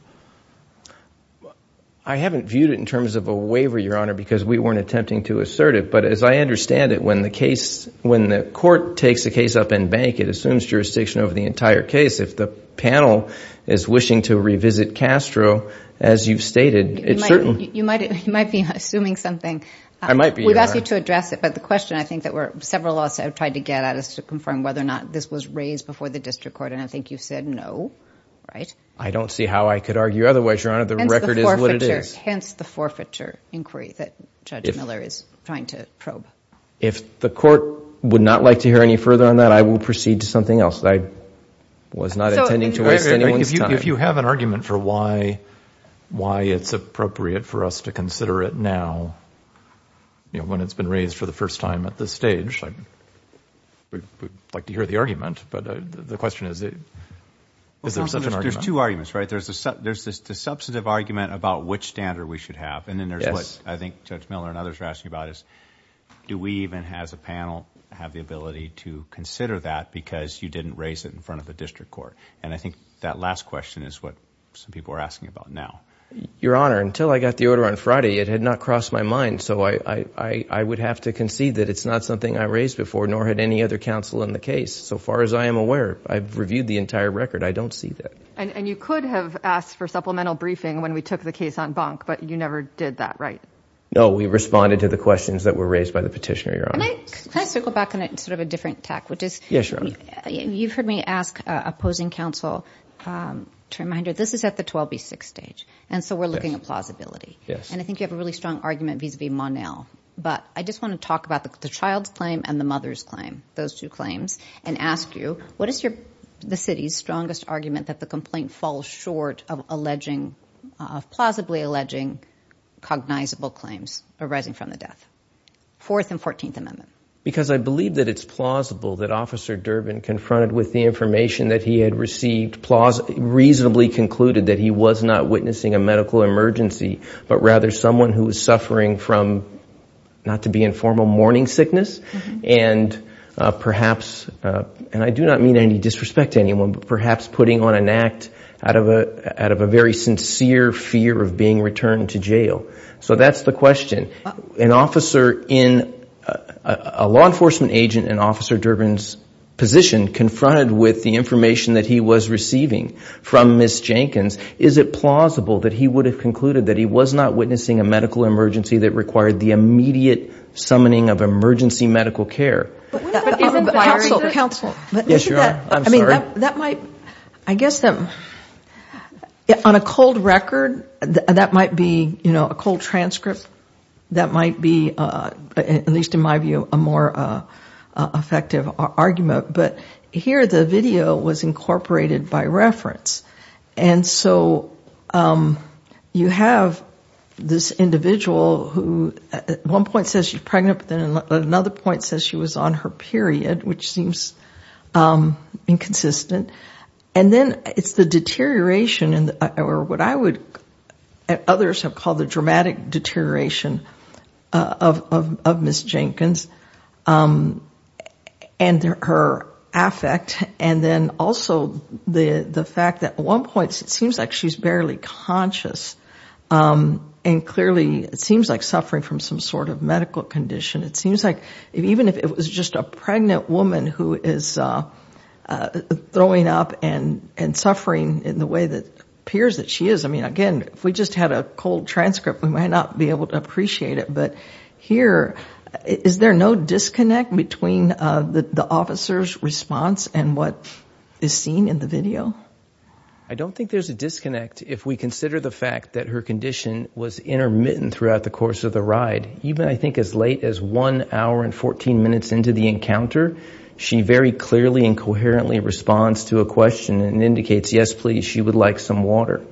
I haven't viewed it in terms of a waiver, Your Honor, because we weren't attempting to assert it. But as I understand it, when the case, when the Court takes a case up in bank, it assumes jurisdiction over the entire case. If the panel is wishing to revisit Castro, as you've stated, it's certain You might be assuming something. I might be, Your Honor. We'd ask you to address it. But the question I think that several laws have tried to get at is to confirm whether this was raised before the district court. And I think you've said no, right? I don't see how I could argue otherwise, Your Honor. The record is what it is. Hence the forfeiture inquiry that Judge Miller is trying to probe. If the Court would not like to hear any further on that, I will proceed to something else. I was not intending to waste anyone's time. If you have an argument for why it's appropriate for us to consider it now, when it's been raised for the first time at this stage, I would like to hear the argument. But the question is, is there such an argument? There's two arguments, right? There's the substantive argument about which standard we should have. And then there's what I think Judge Miller and others are asking about is, do we even, as a panel, have the ability to consider that because you didn't raise it in front of the district court? And I think that last question is what some people are asking about now. Your Honor, until I got the order on Friday, it had not crossed my mind. So I would have to concede that it's not something I raised before, nor had any other counsel in the case. So far as I am aware, I've reviewed the entire record. I don't see that. And you could have asked for supplemental briefing when we took the case on bunk, but you never did that, right? No, we responded to the questions that were raised by the petitioner, Your Honor. Can I circle back on it in sort of a different tack, which is, you've heard me ask opposing counsel to remind her this is at the 12B6 stage. And so we're looking at plausibility. And I think you have a really strong argument vis-a-vis Monel. But I just want to talk about the child's claim and the mother's claim, those two claims, and ask you, what is the city's strongest argument that the complaint falls short of plausibly alleging cognizable claims arising from the death? Fourth and 14th Amendment. Because I believe that it's plausible that Officer Durbin, confronted with the information that he had received, reasonably concluded that he was not witnessing a medical emergency, but rather someone who was suffering from, not to be informal, morning sickness. I do not mean any disrespect to anyone, but perhaps putting on an act out of a very sincere fear of being returned to jail. So that's the question. A law enforcement agent in Officer Durbin's position confronted with the information that he was receiving from Ms. Jenkins, is it plausible that he would have concluded that he was not witnessing a medical emergency that required the immediate summoning of emergency medical care? Counsel, counsel. Yes, you are. I'm sorry. That might, I guess, on a cold record, that might be, you know, a cold transcript. That might be, at least in my view, a more effective argument. But here the video was incorporated by reference. And so you have this individual who at one point says she's pregnant, but then at another point says she was on her period, which seems inconsistent. And then it's the deterioration or what I would, others have called the dramatic deterioration of Ms. Jenkins. And her affect, and then also the fact that at one point, it seems like she's barely conscious. And clearly, it seems like suffering from some sort of medical condition. It seems like even if it was just a pregnant woman who is throwing up and suffering in the way that appears that she is. I mean, again, if we just had a cold transcript, we might not be able to appreciate it. Here, is there no disconnect between the officer's response and what is seen in the video? I don't think there's a disconnect if we consider the fact that her condition was intermittent throughout the course of the ride. Even I think as late as one hour and 14 minutes into the encounter, she very clearly and coherently responds to a question and indicates, yes, please, she would like some water.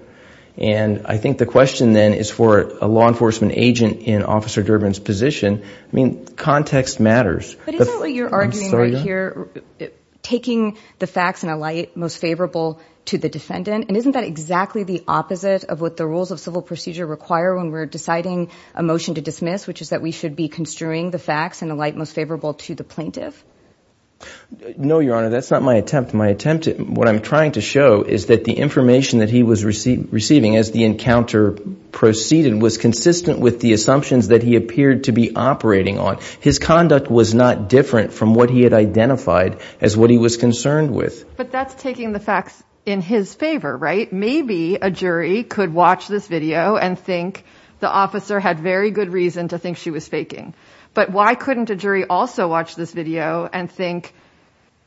And I think the question then is for a law enforcement agent in Officer Durbin's position. I mean, context matters. But isn't what you're arguing right here, taking the facts in a light most favorable to the defendant. And isn't that exactly the opposite of what the rules of civil procedure require when we're deciding a motion to dismiss, which is that we should be construing the facts in a light most favorable to the plaintiff? No, Your Honor, that's not my attempt. What I'm trying to show is that the information that he was receiving as the encounter proceeded was consistent with the assumptions that he appeared to be operating on. His conduct was not different from what he had identified as what he was concerned with. But that's taking the facts in his favor, right? Maybe a jury could watch this video and think the officer had very good reason to think she was faking. But why couldn't a jury also watch this video and think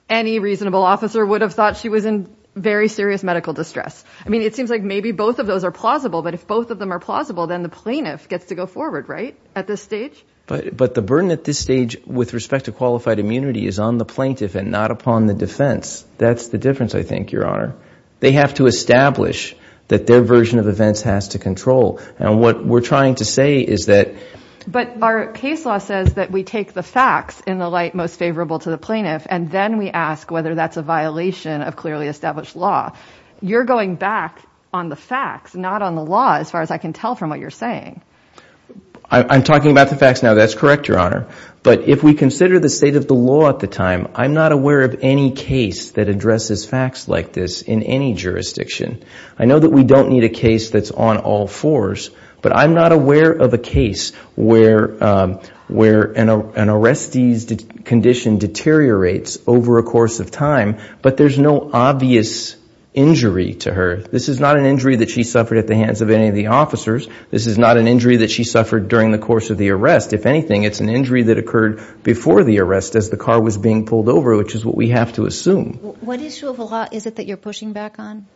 any reasonable officer would have thought she was in very serious medical distress? I mean, it seems like maybe both of those are plausible. But if both of them are plausible, then the plaintiff gets to go forward, right? At this stage. But the burden at this stage with respect to qualified immunity is on the plaintiff and not upon the defense. That's the difference, I think, Your Honor. They have to establish that their version of events has to control. And what we're trying to say is that. But our case law says that we take the facts in the light most favorable to the plaintiff, and then we ask whether that's a violation of clearly established law. You're going back on the facts, not on the law, as far as I can tell from what you're saying. I'm talking about the facts now. That's correct, Your Honor. But if we consider the state of the law at the time, I'm not aware of any case that addresses facts like this in any jurisdiction. I know that we don't need a case that's on all fours. But I'm not aware of a case where an arrestee's condition deteriorates over a course of time, but there's no obvious injury to her. This is not an injury that she suffered at the hands of any of the officers. This is not an injury that she suffered during the course of the arrest. If anything, it's an injury that occurred before the arrest as the car was being pulled over, which is what we have to assume. What issue of the law is it that you're pushing back on?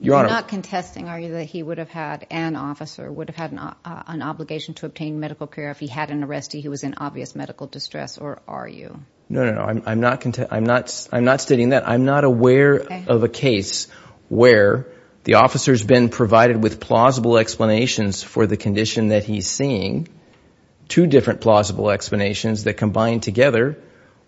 You're not contesting, are you, that he would have had an officer, would have had an obligation to obtain medical care if he had an arrestee who was in obvious medical distress, or are you? No, no, no. I'm not contesting. I'm not stating that. I'm not aware of a case where the officer's been provided with plausible explanations for the condition that he's seeing. Two different plausible explanations that combine together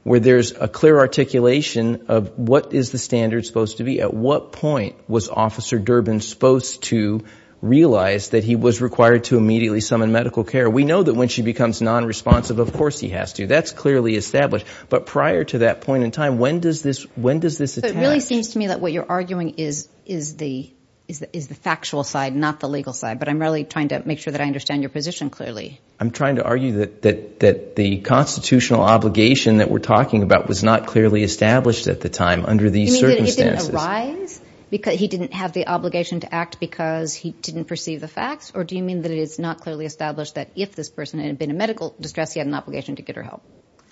where there's a clear articulation of what is the standard supposed to be? At what point was Officer Durbin supposed to realize that he was required to immediately summon medical care? We know that when she becomes non-responsive, of course he has to. That's clearly established, but prior to that point in time, when does this attach? It really seems to me that what you're arguing is the factual side, not the legal side, but I'm really trying to make sure that I understand your position clearly. I'm trying to argue that the constitutional obligation that we're talking about was not clearly established at the time under these circumstances. Do you mean that it didn't arise? He didn't have the obligation to act because he didn't perceive the facts? Or do you mean that it is not clearly established that if this person had been in medical distress, he had an obligation to get her help?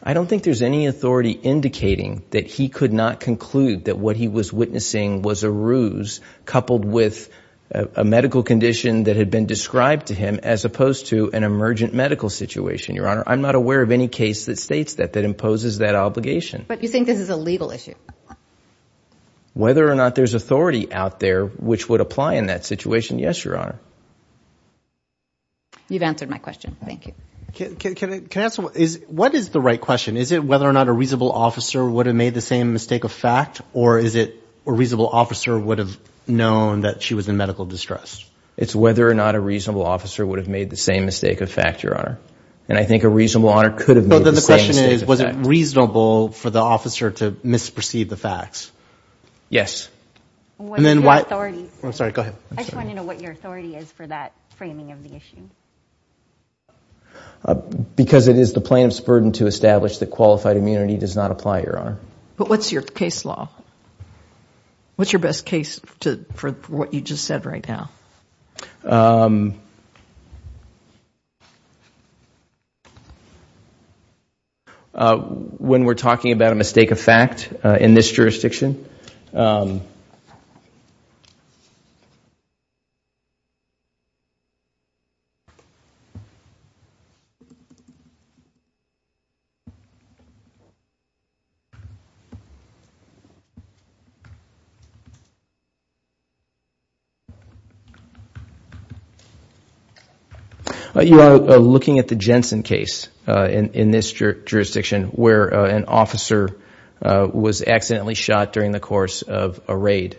I don't think there's any authority indicating that he could not conclude that what he was witnessing was a ruse coupled with a medical condition that had been described to him as opposed to an emergent medical situation, Your Honor. I'm not aware of any case that states that, that imposes that obligation. But you think this is a legal issue? Whether or not there's authority out there which would apply in that situation, yes, Your Honor. You've answered my question. Thank you. Can I ask, what is the right question? Is it whether or not a reasonable officer would have made the same mistake of fact, or is it a reasonable officer would have known that she was in medical distress? It's whether or not a reasonable officer would have made the same mistake of fact, Your Honor. And I think a reasonable officer could have made the same mistake of fact. Then the question is, was it reasonable for the officer to misperceive the facts? Yes. What is your authority? I'm sorry, go ahead. I just want to know what your authority is for that framing of the issue. Because it is the plaintiff's burden to establish that qualified immunity does not apply, Your Honor. But what's your case law? What's your best case for what you just said right now? Uh, when we're talking about a mistake of fact in this jurisdiction, um, you are looking at the Jensen case in this jurisdiction where an officer was accidentally shot during the course of a raid.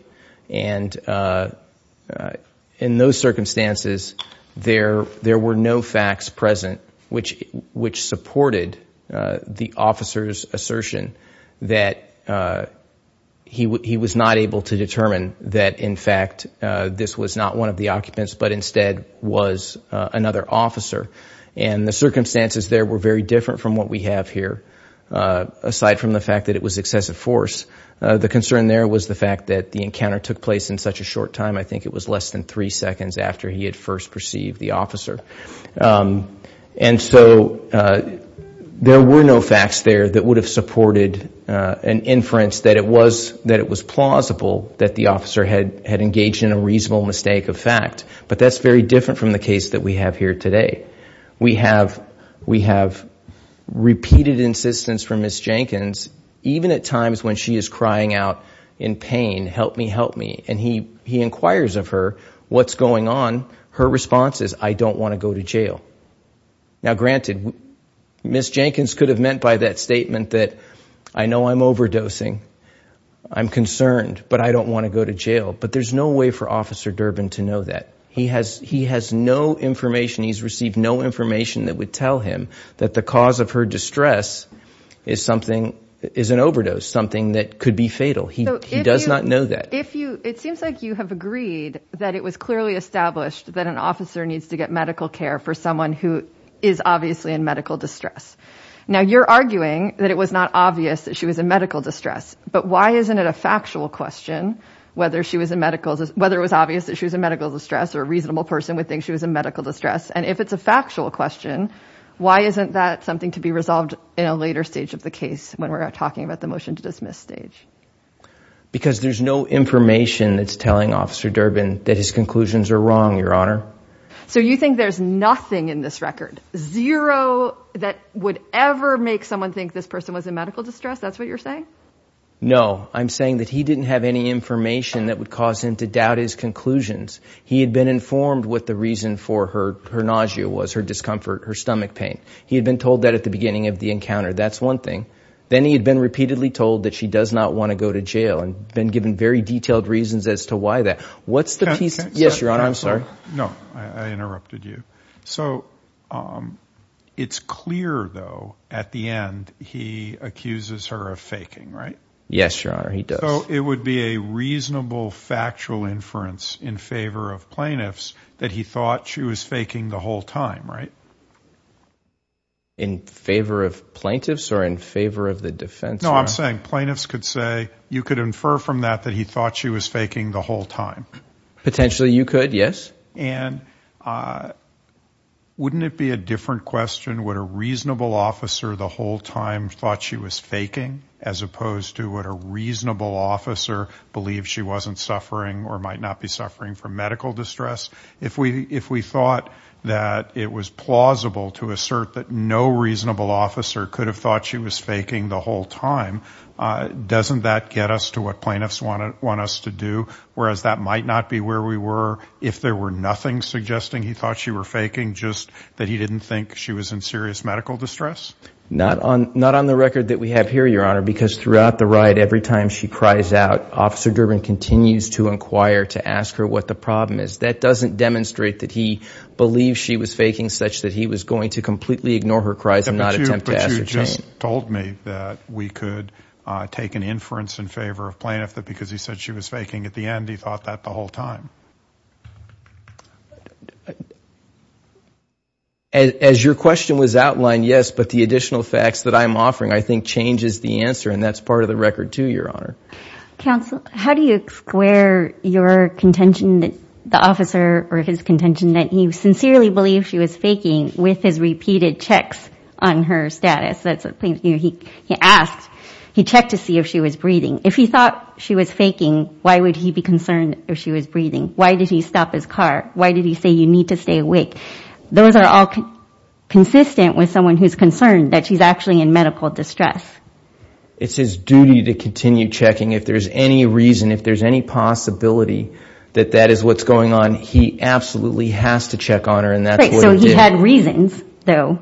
And in those circumstances, there were no facts present which supported the officer's assertion that he was not able to determine that, in fact, this was not one of the occupants, but instead was another officer. And the circumstances there were very different from what we have here, aside from the fact that it was excessive force. The concern there was the fact that the encounter took place in such a short time. I think it was less than three seconds after he had first perceived the officer. And so, there were no facts there that would have supported an inference that it was plausible that the officer had engaged in a reasonable mistake of fact. But that's very different from the case that we have here today. We have repeated insistence from Ms. Jenkins, even at times when she is crying out in pain, help me, help me, and he inquires of her what's going on. Her response is, I don't want to go to jail. Now granted, Ms. Jenkins could have meant by that statement that I know I'm overdosing, I'm concerned, but I don't want to go to jail. But there's no way for Officer Durbin to know that. He has no information, he's received no information that would tell him that the cause of her distress is an overdose, something that could be fatal. He does not know that. It seems like you have agreed that it was clearly established that an officer needs to get medical care for someone who is obviously in medical distress. Now you're arguing that it was not obvious that she was in medical distress, but why isn't it a factual question whether she was in medical, whether it was obvious that she was in medical distress or a reasonable person would think she was in medical distress? And if it's a factual question, why isn't that something to be resolved in a later stage of the case when we're talking about the motion to dismiss stage? Because there's no information that's telling Officer Durbin that his conclusions are wrong, Your Honor. So you think there's nothing in this record, zero that would ever make someone think this person was in medical distress? That's what you're saying? No, I'm saying that he didn't have any information that would cause him to doubt his conclusions. He had been informed what the reason for her nausea was, her discomfort, her stomach pain. He had been told that at the beginning of the encounter. That's one thing. Then he had been repeatedly told that she does not want to go to jail and been given very detailed reasons as to why that. What's the piece? Yes, Your Honor. I'm sorry. No, I interrupted you. So it's clear, though, at the end, he accuses her of faking, right? Yes, Your Honor, he does. So it would be a reasonable factual inference in favor of plaintiffs that he thought she was faking the whole time, right? In favor of plaintiffs or in favor of the defense? No, I'm saying plaintiffs could say you could infer from that that he thought she was faking the whole time. Potentially, you could, yes. And wouldn't it be a different question? Would a reasonable officer the whole time thought she was faking as opposed to what a reasonable officer believed she wasn't suffering or might not be suffering from medical distress? If we thought that it was plausible to assert that no reasonable officer could have thought she was faking the whole time, doesn't that get us to what plaintiffs want us to do? Whereas that might not be where we were. If there were nothing suggesting he thought she were faking, just that he didn't think she was in serious medical distress? Not on the record that we have here, Your Honor, because throughout the riot, every time she cries out, Officer Durbin continues to inquire, to ask her what the problem is. That doesn't demonstrate that he believes she was faking such that he was going to completely ignore her cries and not attempt to ascertain. But you just told me that we could take an inference in favor of plaintiff that because he said she was faking at the end, he thought that the whole time. As your question was outlined, yes, but the additional facts that I'm offering, I think changes the answer and that's part of the record too, Your Honor. Counsel, how do you square your contention that the officer or his contention that he sincerely believed she was faking with his repeated checks on her status? That's a plaintiff, he asked, he checked to see if she was breathing. If he thought she was faking, why would he be concerned if she was breathing? Why would he be concerned if she was breathing? Why did he stop his car? Why did he say you need to stay awake? Those are all consistent with someone who's concerned that she's actually in medical distress. It's his duty to continue checking. If there's any reason, if there's any possibility that that is what's going on, he absolutely has to check on her and that's what he did. So he had reasons though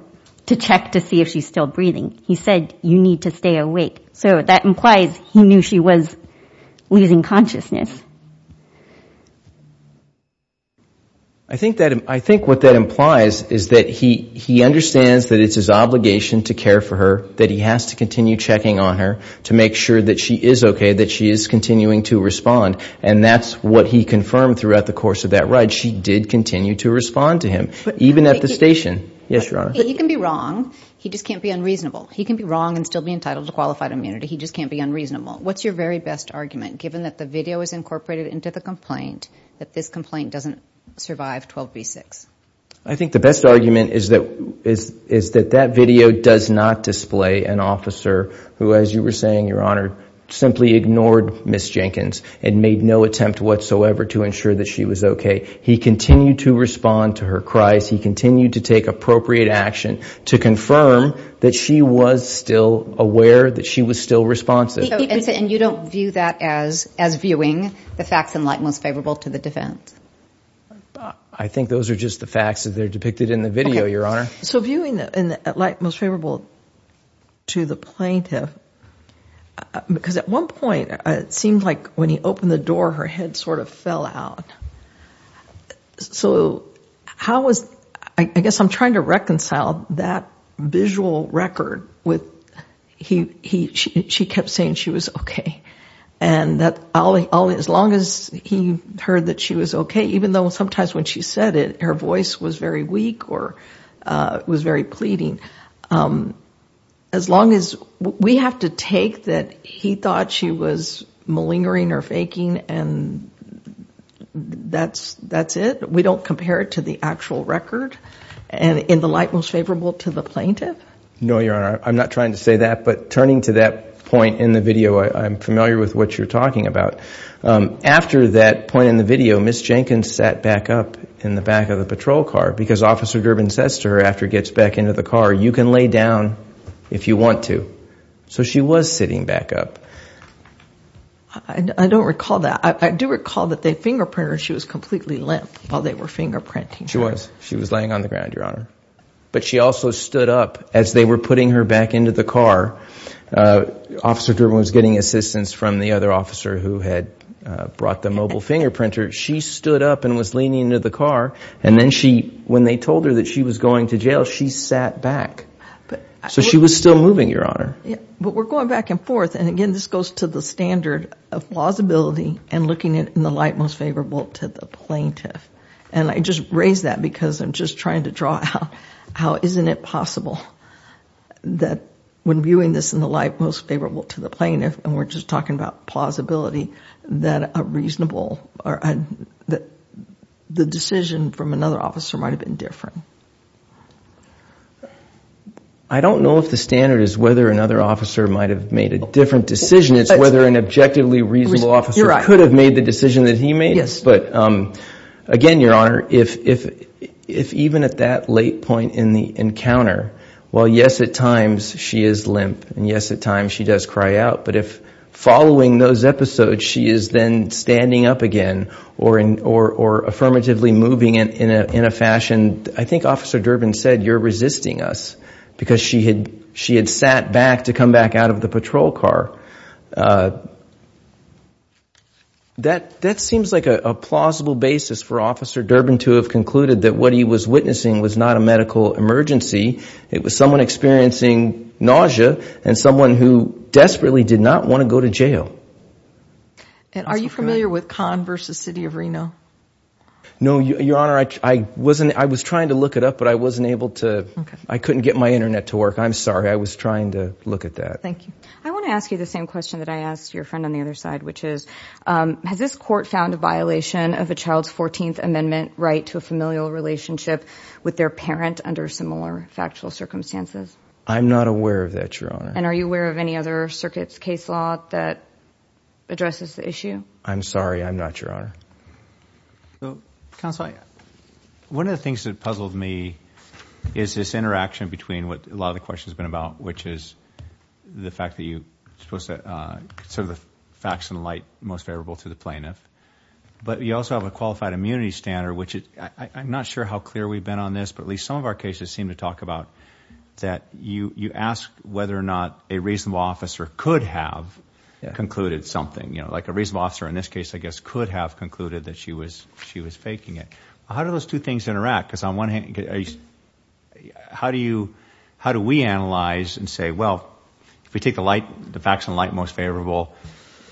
to check to see if she's still breathing. He said you need to stay awake. So that implies he knew she was losing consciousness. I think what that implies is that he understands that it's his obligation to care for her, that he has to continue checking on her to make sure that she is okay, that she is continuing to respond. And that's what he confirmed throughout the course of that ride. She did continue to respond to him, even at the station. Yes, Your Honor. But he can be wrong. He just can't be unreasonable. He can be wrong and still be entitled to qualified immunity. He just can't be unreasonable. What's your very best argument, given that the video is incorporated into the complaint, that this complaint doesn't survive 12 v. 6? I think the best argument is that that video does not display an officer who, as you were saying, Your Honor, simply ignored Ms. Jenkins and made no attempt whatsoever to ensure that she was okay. He continued to respond to her cries. He continued to take appropriate action to confirm that she was still aware, that she was still responsive. And you don't view that as viewing the facts in light most favorable to the defense? I think those are just the facts that are depicted in the video, Your Honor. So viewing in light most favorable to the plaintiff, because at one point it seemed like when he opened the door, her head sort of fell out. So how was, I guess I'm trying to reconcile that visual record with, he, she kept saying she was okay. And that all, as long as he heard that she was okay, even though sometimes when she said it, her voice was very weak or was very pleading. As long as, we have to take that he thought she was malingering or faking and that's it? We don't compare it to the actual record and in the light most favorable to the plaintiff? No, Your Honor. I'm not trying to say that, but turning to that point in the video, I'm familiar with what you're talking about. After that point in the video, Ms. Jenkins sat back up in the back of the patrol car because Officer Durbin says to her after he gets back into the car, you can lay down if you want to. So she was sitting back up. I don't recall that. I do recall that they fingerprinted her. She was completely limp while they were fingerprinting her. She was. She was laying on the ground, Your Honor. But she also stood up as they were putting her back into the car. Officer Durbin was getting assistance from the other officer who had brought the mobile fingerprinter. She stood up and was leaning into the car. And then she, when they told her that she was going to jail, she sat back. So she was still moving, Your Honor. But we're going back and forth. And again, this goes to the standard of plausibility and looking in the light most favorable to the plaintiff. And I just raise that because I'm just trying to draw out how isn't it possible that when viewing this in the light most favorable to the plaintiff, and we're just talking about plausibility, that a reasonable or the decision from another officer might have been different. I don't know if the standard is whether another officer might have made a different decision. It's whether an objectively reasonable officer could have made the decision that he made. But again, Your Honor, if even at that late point in the encounter, well, yes, at times she is limp. And yes, at times she does cry out. But if following those episodes, she is then standing up again or affirmatively moving in a fashion, I think Officer Durbin said, you're resisting us because she had sat back to come back out of the patrol car. That seems like a plausible basis for Officer Durbin to have concluded that what he was witnessing was not a medical emergency. It was someone experiencing nausea and someone who desperately did not want to go to jail. And are you familiar with Conn versus City of Reno? No, Your Honor, I wasn't. I was trying to look it up, but I wasn't able to. I couldn't get my internet to work. I'm sorry. I was trying to look at that. Thank you. I want to ask you this question. The same question that I asked your friend on the other side, which is, has this court found a violation of a child's 14th Amendment right to a familial relationship with their parent under similar factual circumstances? I'm not aware of that, Your Honor. And are you aware of any other circuit's case law that addresses the issue? I'm sorry. I'm not, Your Honor. Counsel, one of the things that puzzled me is this interaction between what a lot of questions have been about, which is the fact that you consider the facts in light most favorable to the plaintiff, but you also have a qualified immunity standard, which I'm not sure how clear we've been on this, but at least some of our cases seem to talk about that you ask whether or not a reasonable officer could have concluded something. Like a reasonable officer in this case, I guess, could have concluded that she was faking it. How do those two things interact? Because on one hand, how do we analyze and say, well, if we take the facts in light most favorable,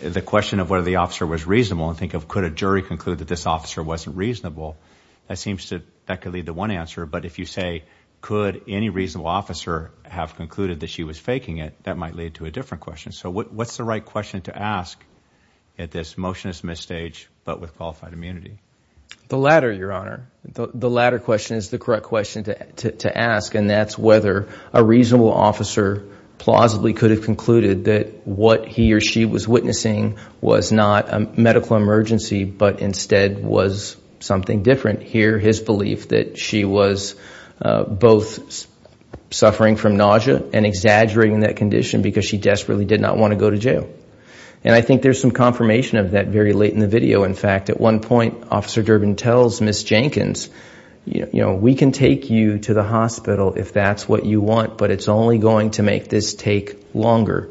the question of whether the officer was reasonable and think of could a jury conclude that this officer wasn't reasonable, that could lead to one answer. But if you say, could any reasonable officer have concluded that she was faking it, that might lead to a different question. So what's the right question to ask at this motion is misstaged, but with qualified immunity? The latter, Your Honor. The latter question is the correct question to ask, and that's whether a reasonable officer plausibly could have concluded that what he or she was witnessing was not a medical emergency, but instead was something different. Here, his belief that she was both suffering from nausea and exaggerating that condition because she desperately did not want to go to jail. And I think there's some confirmation of that very late in the video. In fact, at one point, Officer Durbin tells Ms. Jenkins, we can take you to the hospital if that's what you want, but it's only going to make this take longer.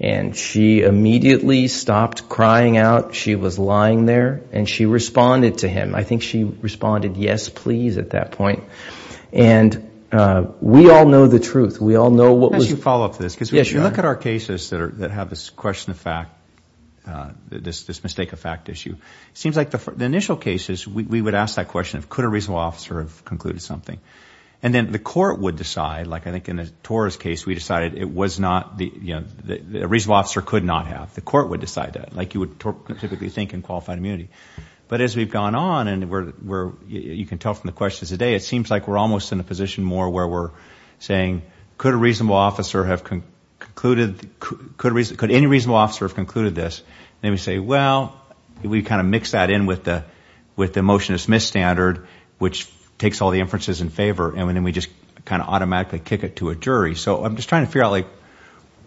And she immediately stopped crying out. She was lying there, and she responded to him. I think she responded, yes, please, at that point. And we all know the truth. We all know what was... Yes, Your Honor. Look at our cases that have this question of fact, this mistake of fact issue. It seems like the initial cases, we would ask that question of could a reasonable officer have concluded something? And then the court would decide, like I think in the Torres case, we decided it was not... a reasonable officer could not have. The court would decide that, like you would typically think in qualified immunity. But as we've gone on, and you can tell from the questions today, it seems like we're almost in a position more where we're saying, could a reasonable officer have concluded... could any reasonable officer have concluded this? Then we say, well, we kind of mix that in with the motion to dismiss standard, which takes all the inferences in favor, and then we just kind of automatically kick it to a jury. So I'm just trying to figure out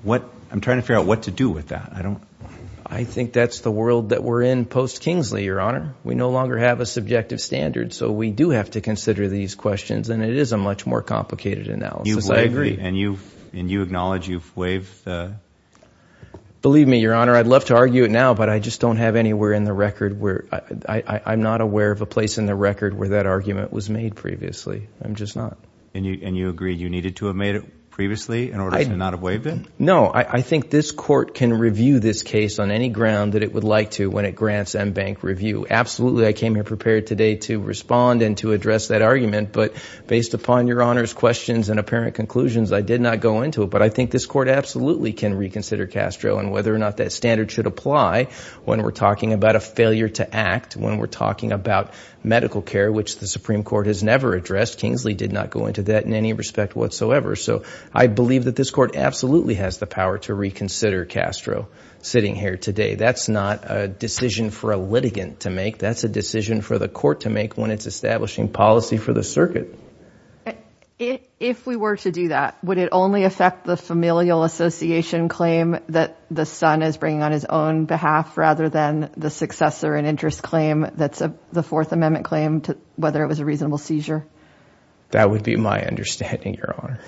what to do with that. I don't... I think that's the world that we're in post-Kingsley, Your Honor. We no longer have a subjective standard, so we do have to consider these questions. And it is a much more complicated analysis. I agree. And you acknowledge you've waived the... Believe me, Your Honor, I'd love to argue it now, but I just don't have anywhere in the record where... I'm not aware of a place in the record where that argument was made previously. I'm just not. And you agree you needed to have made it previously in order to not have waived it? No, I think this court can review this case on any ground that it would like to when it grants en banc review. Absolutely, I came here prepared today to respond and to address that argument, but based upon Your Honor's questions and apparent conclusions, I did not go into it. But I think this court absolutely can reconsider Castro and whether or not that standard should apply when we're talking about a failure to act, when we're talking about medical care, which the Supreme Court has never addressed. Kingsley did not go into that in any respect whatsoever. So I believe that this court absolutely has the power to reconsider Castro sitting here today. That's not a decision for a litigant to make. That's a decision for the court to make when it's establishing policy for the circuit. If we were to do that, would it only affect the familial association claim that the son is bringing on his own behalf rather than the successor and interest claim that's the Fourth Amendment claim, whether it was a reasonable seizure? That would be my understanding, Your Honor.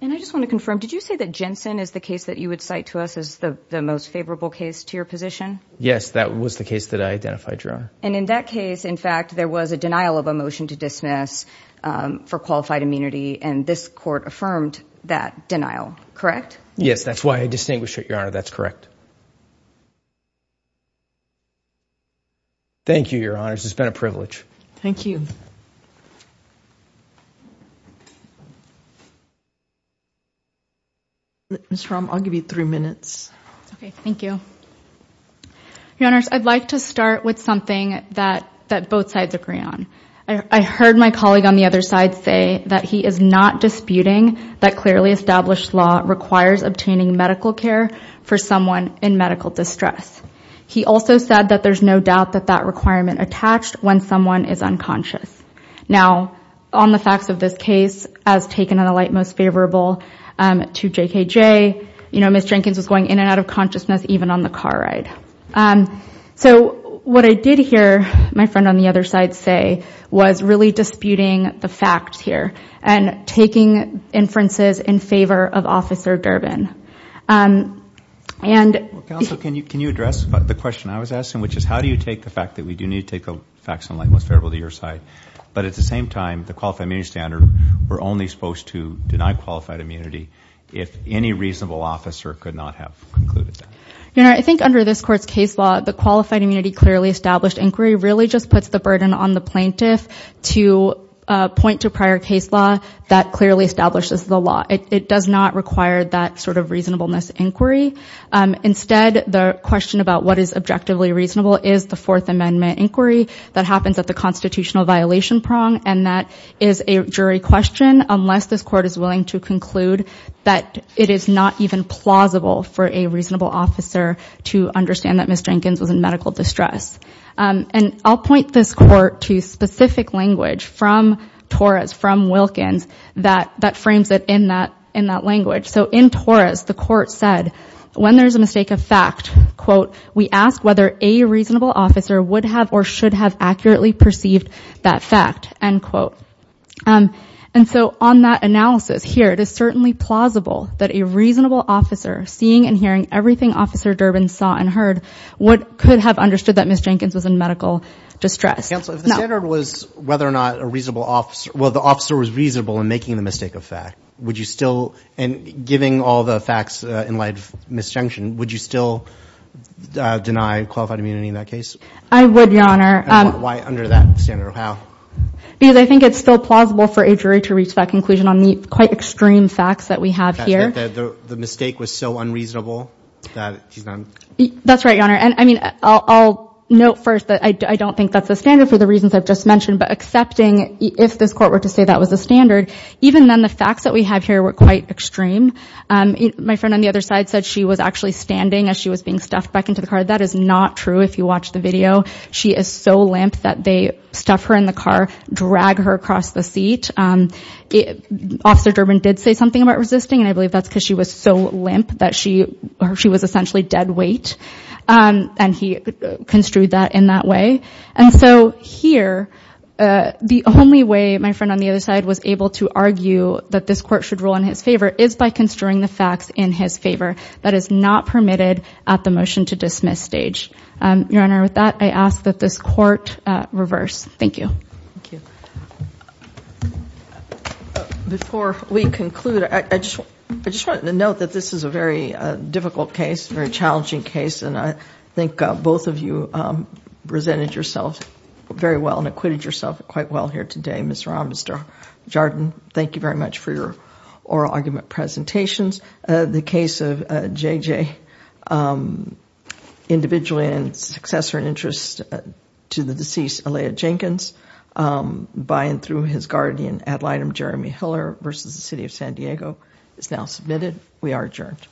And I just want to confirm, did you say that Jensen is the case that you would cite to this as the most favorable case to your position? Yes, that was the case that I identified, Your Honor. And in that case, in fact, there was a denial of a motion to dismiss for qualified immunity, and this court affirmed that denial, correct? Yes, that's why I distinguish it, Your Honor. That's correct. Thank you, Your Honors. It's been a privilege. Thank you. Ms. Rahm, I'll give you three minutes. Okay, thank you. Your Honors, I'd like to start with something that both sides agree on. I heard my colleague on the other side say that he is not disputing that clearly established law requires obtaining medical care for someone in medical distress. He also said that there's no doubt that that requirement attached when someone is unconscious. Now, on the facts of this case, as taken on the light most favorable to JKJ, you know, Ms. Jenkins was going in and out of consciousness even on the car ride. So what I did hear my friend on the other side say was really disputing the facts here and taking inferences in favor of Officer Durbin. And... Counsel, can you address the question I was asking, which is how do you take the fact that we do need to take the facts on the light most favorable to your side, but at the same time, the qualified immunity standard, we're only supposed to deny qualified immunity if any reasonable officer could not have concluded that. Your Honor, I think under this court's case law, the qualified immunity clearly established inquiry really just puts the burden on the plaintiff to point to prior case law that clearly establishes the law. It does not require that sort of reasonableness inquiry. Instead, the question about what is objectively reasonable is the Fourth Amendment inquiry that happens at the constitutional violation prong. And that is a jury question, unless this court is willing to conclude that it is not even plausible for a reasonable officer to understand that Ms. Jenkins was in medical distress. And I'll point this court to specific language from Torres, from Wilkins, that frames it in that language. So in Torres, the court said, when there's a mistake of fact, quote, we ask whether a reasonable officer would have or should have accurately perceived that fact, end quote. And so on that analysis here, it is certainly plausible that a reasonable officer seeing and hearing everything Officer Durbin saw and heard could have understood that Ms. Jenkins was in medical distress. Counsel, if the standard was whether or not a reasonable officer, well, the officer was giving all the facts in light of misjunction, would you still deny qualified immunity in that case? I would, Your Honor. Why under that standard? How? Because I think it's still plausible for a jury to reach that conclusion on the quite extreme facts that we have here. The mistake was so unreasonable that she's not? That's right, Your Honor. And I mean, I'll note first that I don't think that's the standard for the reasons I've just mentioned. But accepting, if this court were to say that was the standard, even then the facts that we have here were quite extreme. My friend on the other side said she was actually standing as she was being stuffed back into the car. That is not true. If you watch the video, she is so limp that they stuff her in the car, drag her across the seat. Officer Durbin did say something about resisting, and I believe that's because she was so limp that she was essentially dead weight. And he construed that in that way. And so here, the only way my friend on the other side was able to argue that this court should rule in his favor is by construing the facts in his favor. That is not permitted at the motion to dismiss stage. Your Honor, with that, I ask that this court reverse. Thank you. Before we conclude, I just want to note that this is a very difficult case, very challenging case. And I think both of you presented yourself very well and acquitted yourself quite well here today. Ms. Rahm, Mr. Jardon, thank you very much for your oral argument presentations. The case of J.J. individually and successor in interest to the deceased, Alaya Jenkins, by and through his guardian, ad litem Jeremy Hiller versus the city of San Diego is now submitted. We are adjourned. Thank you.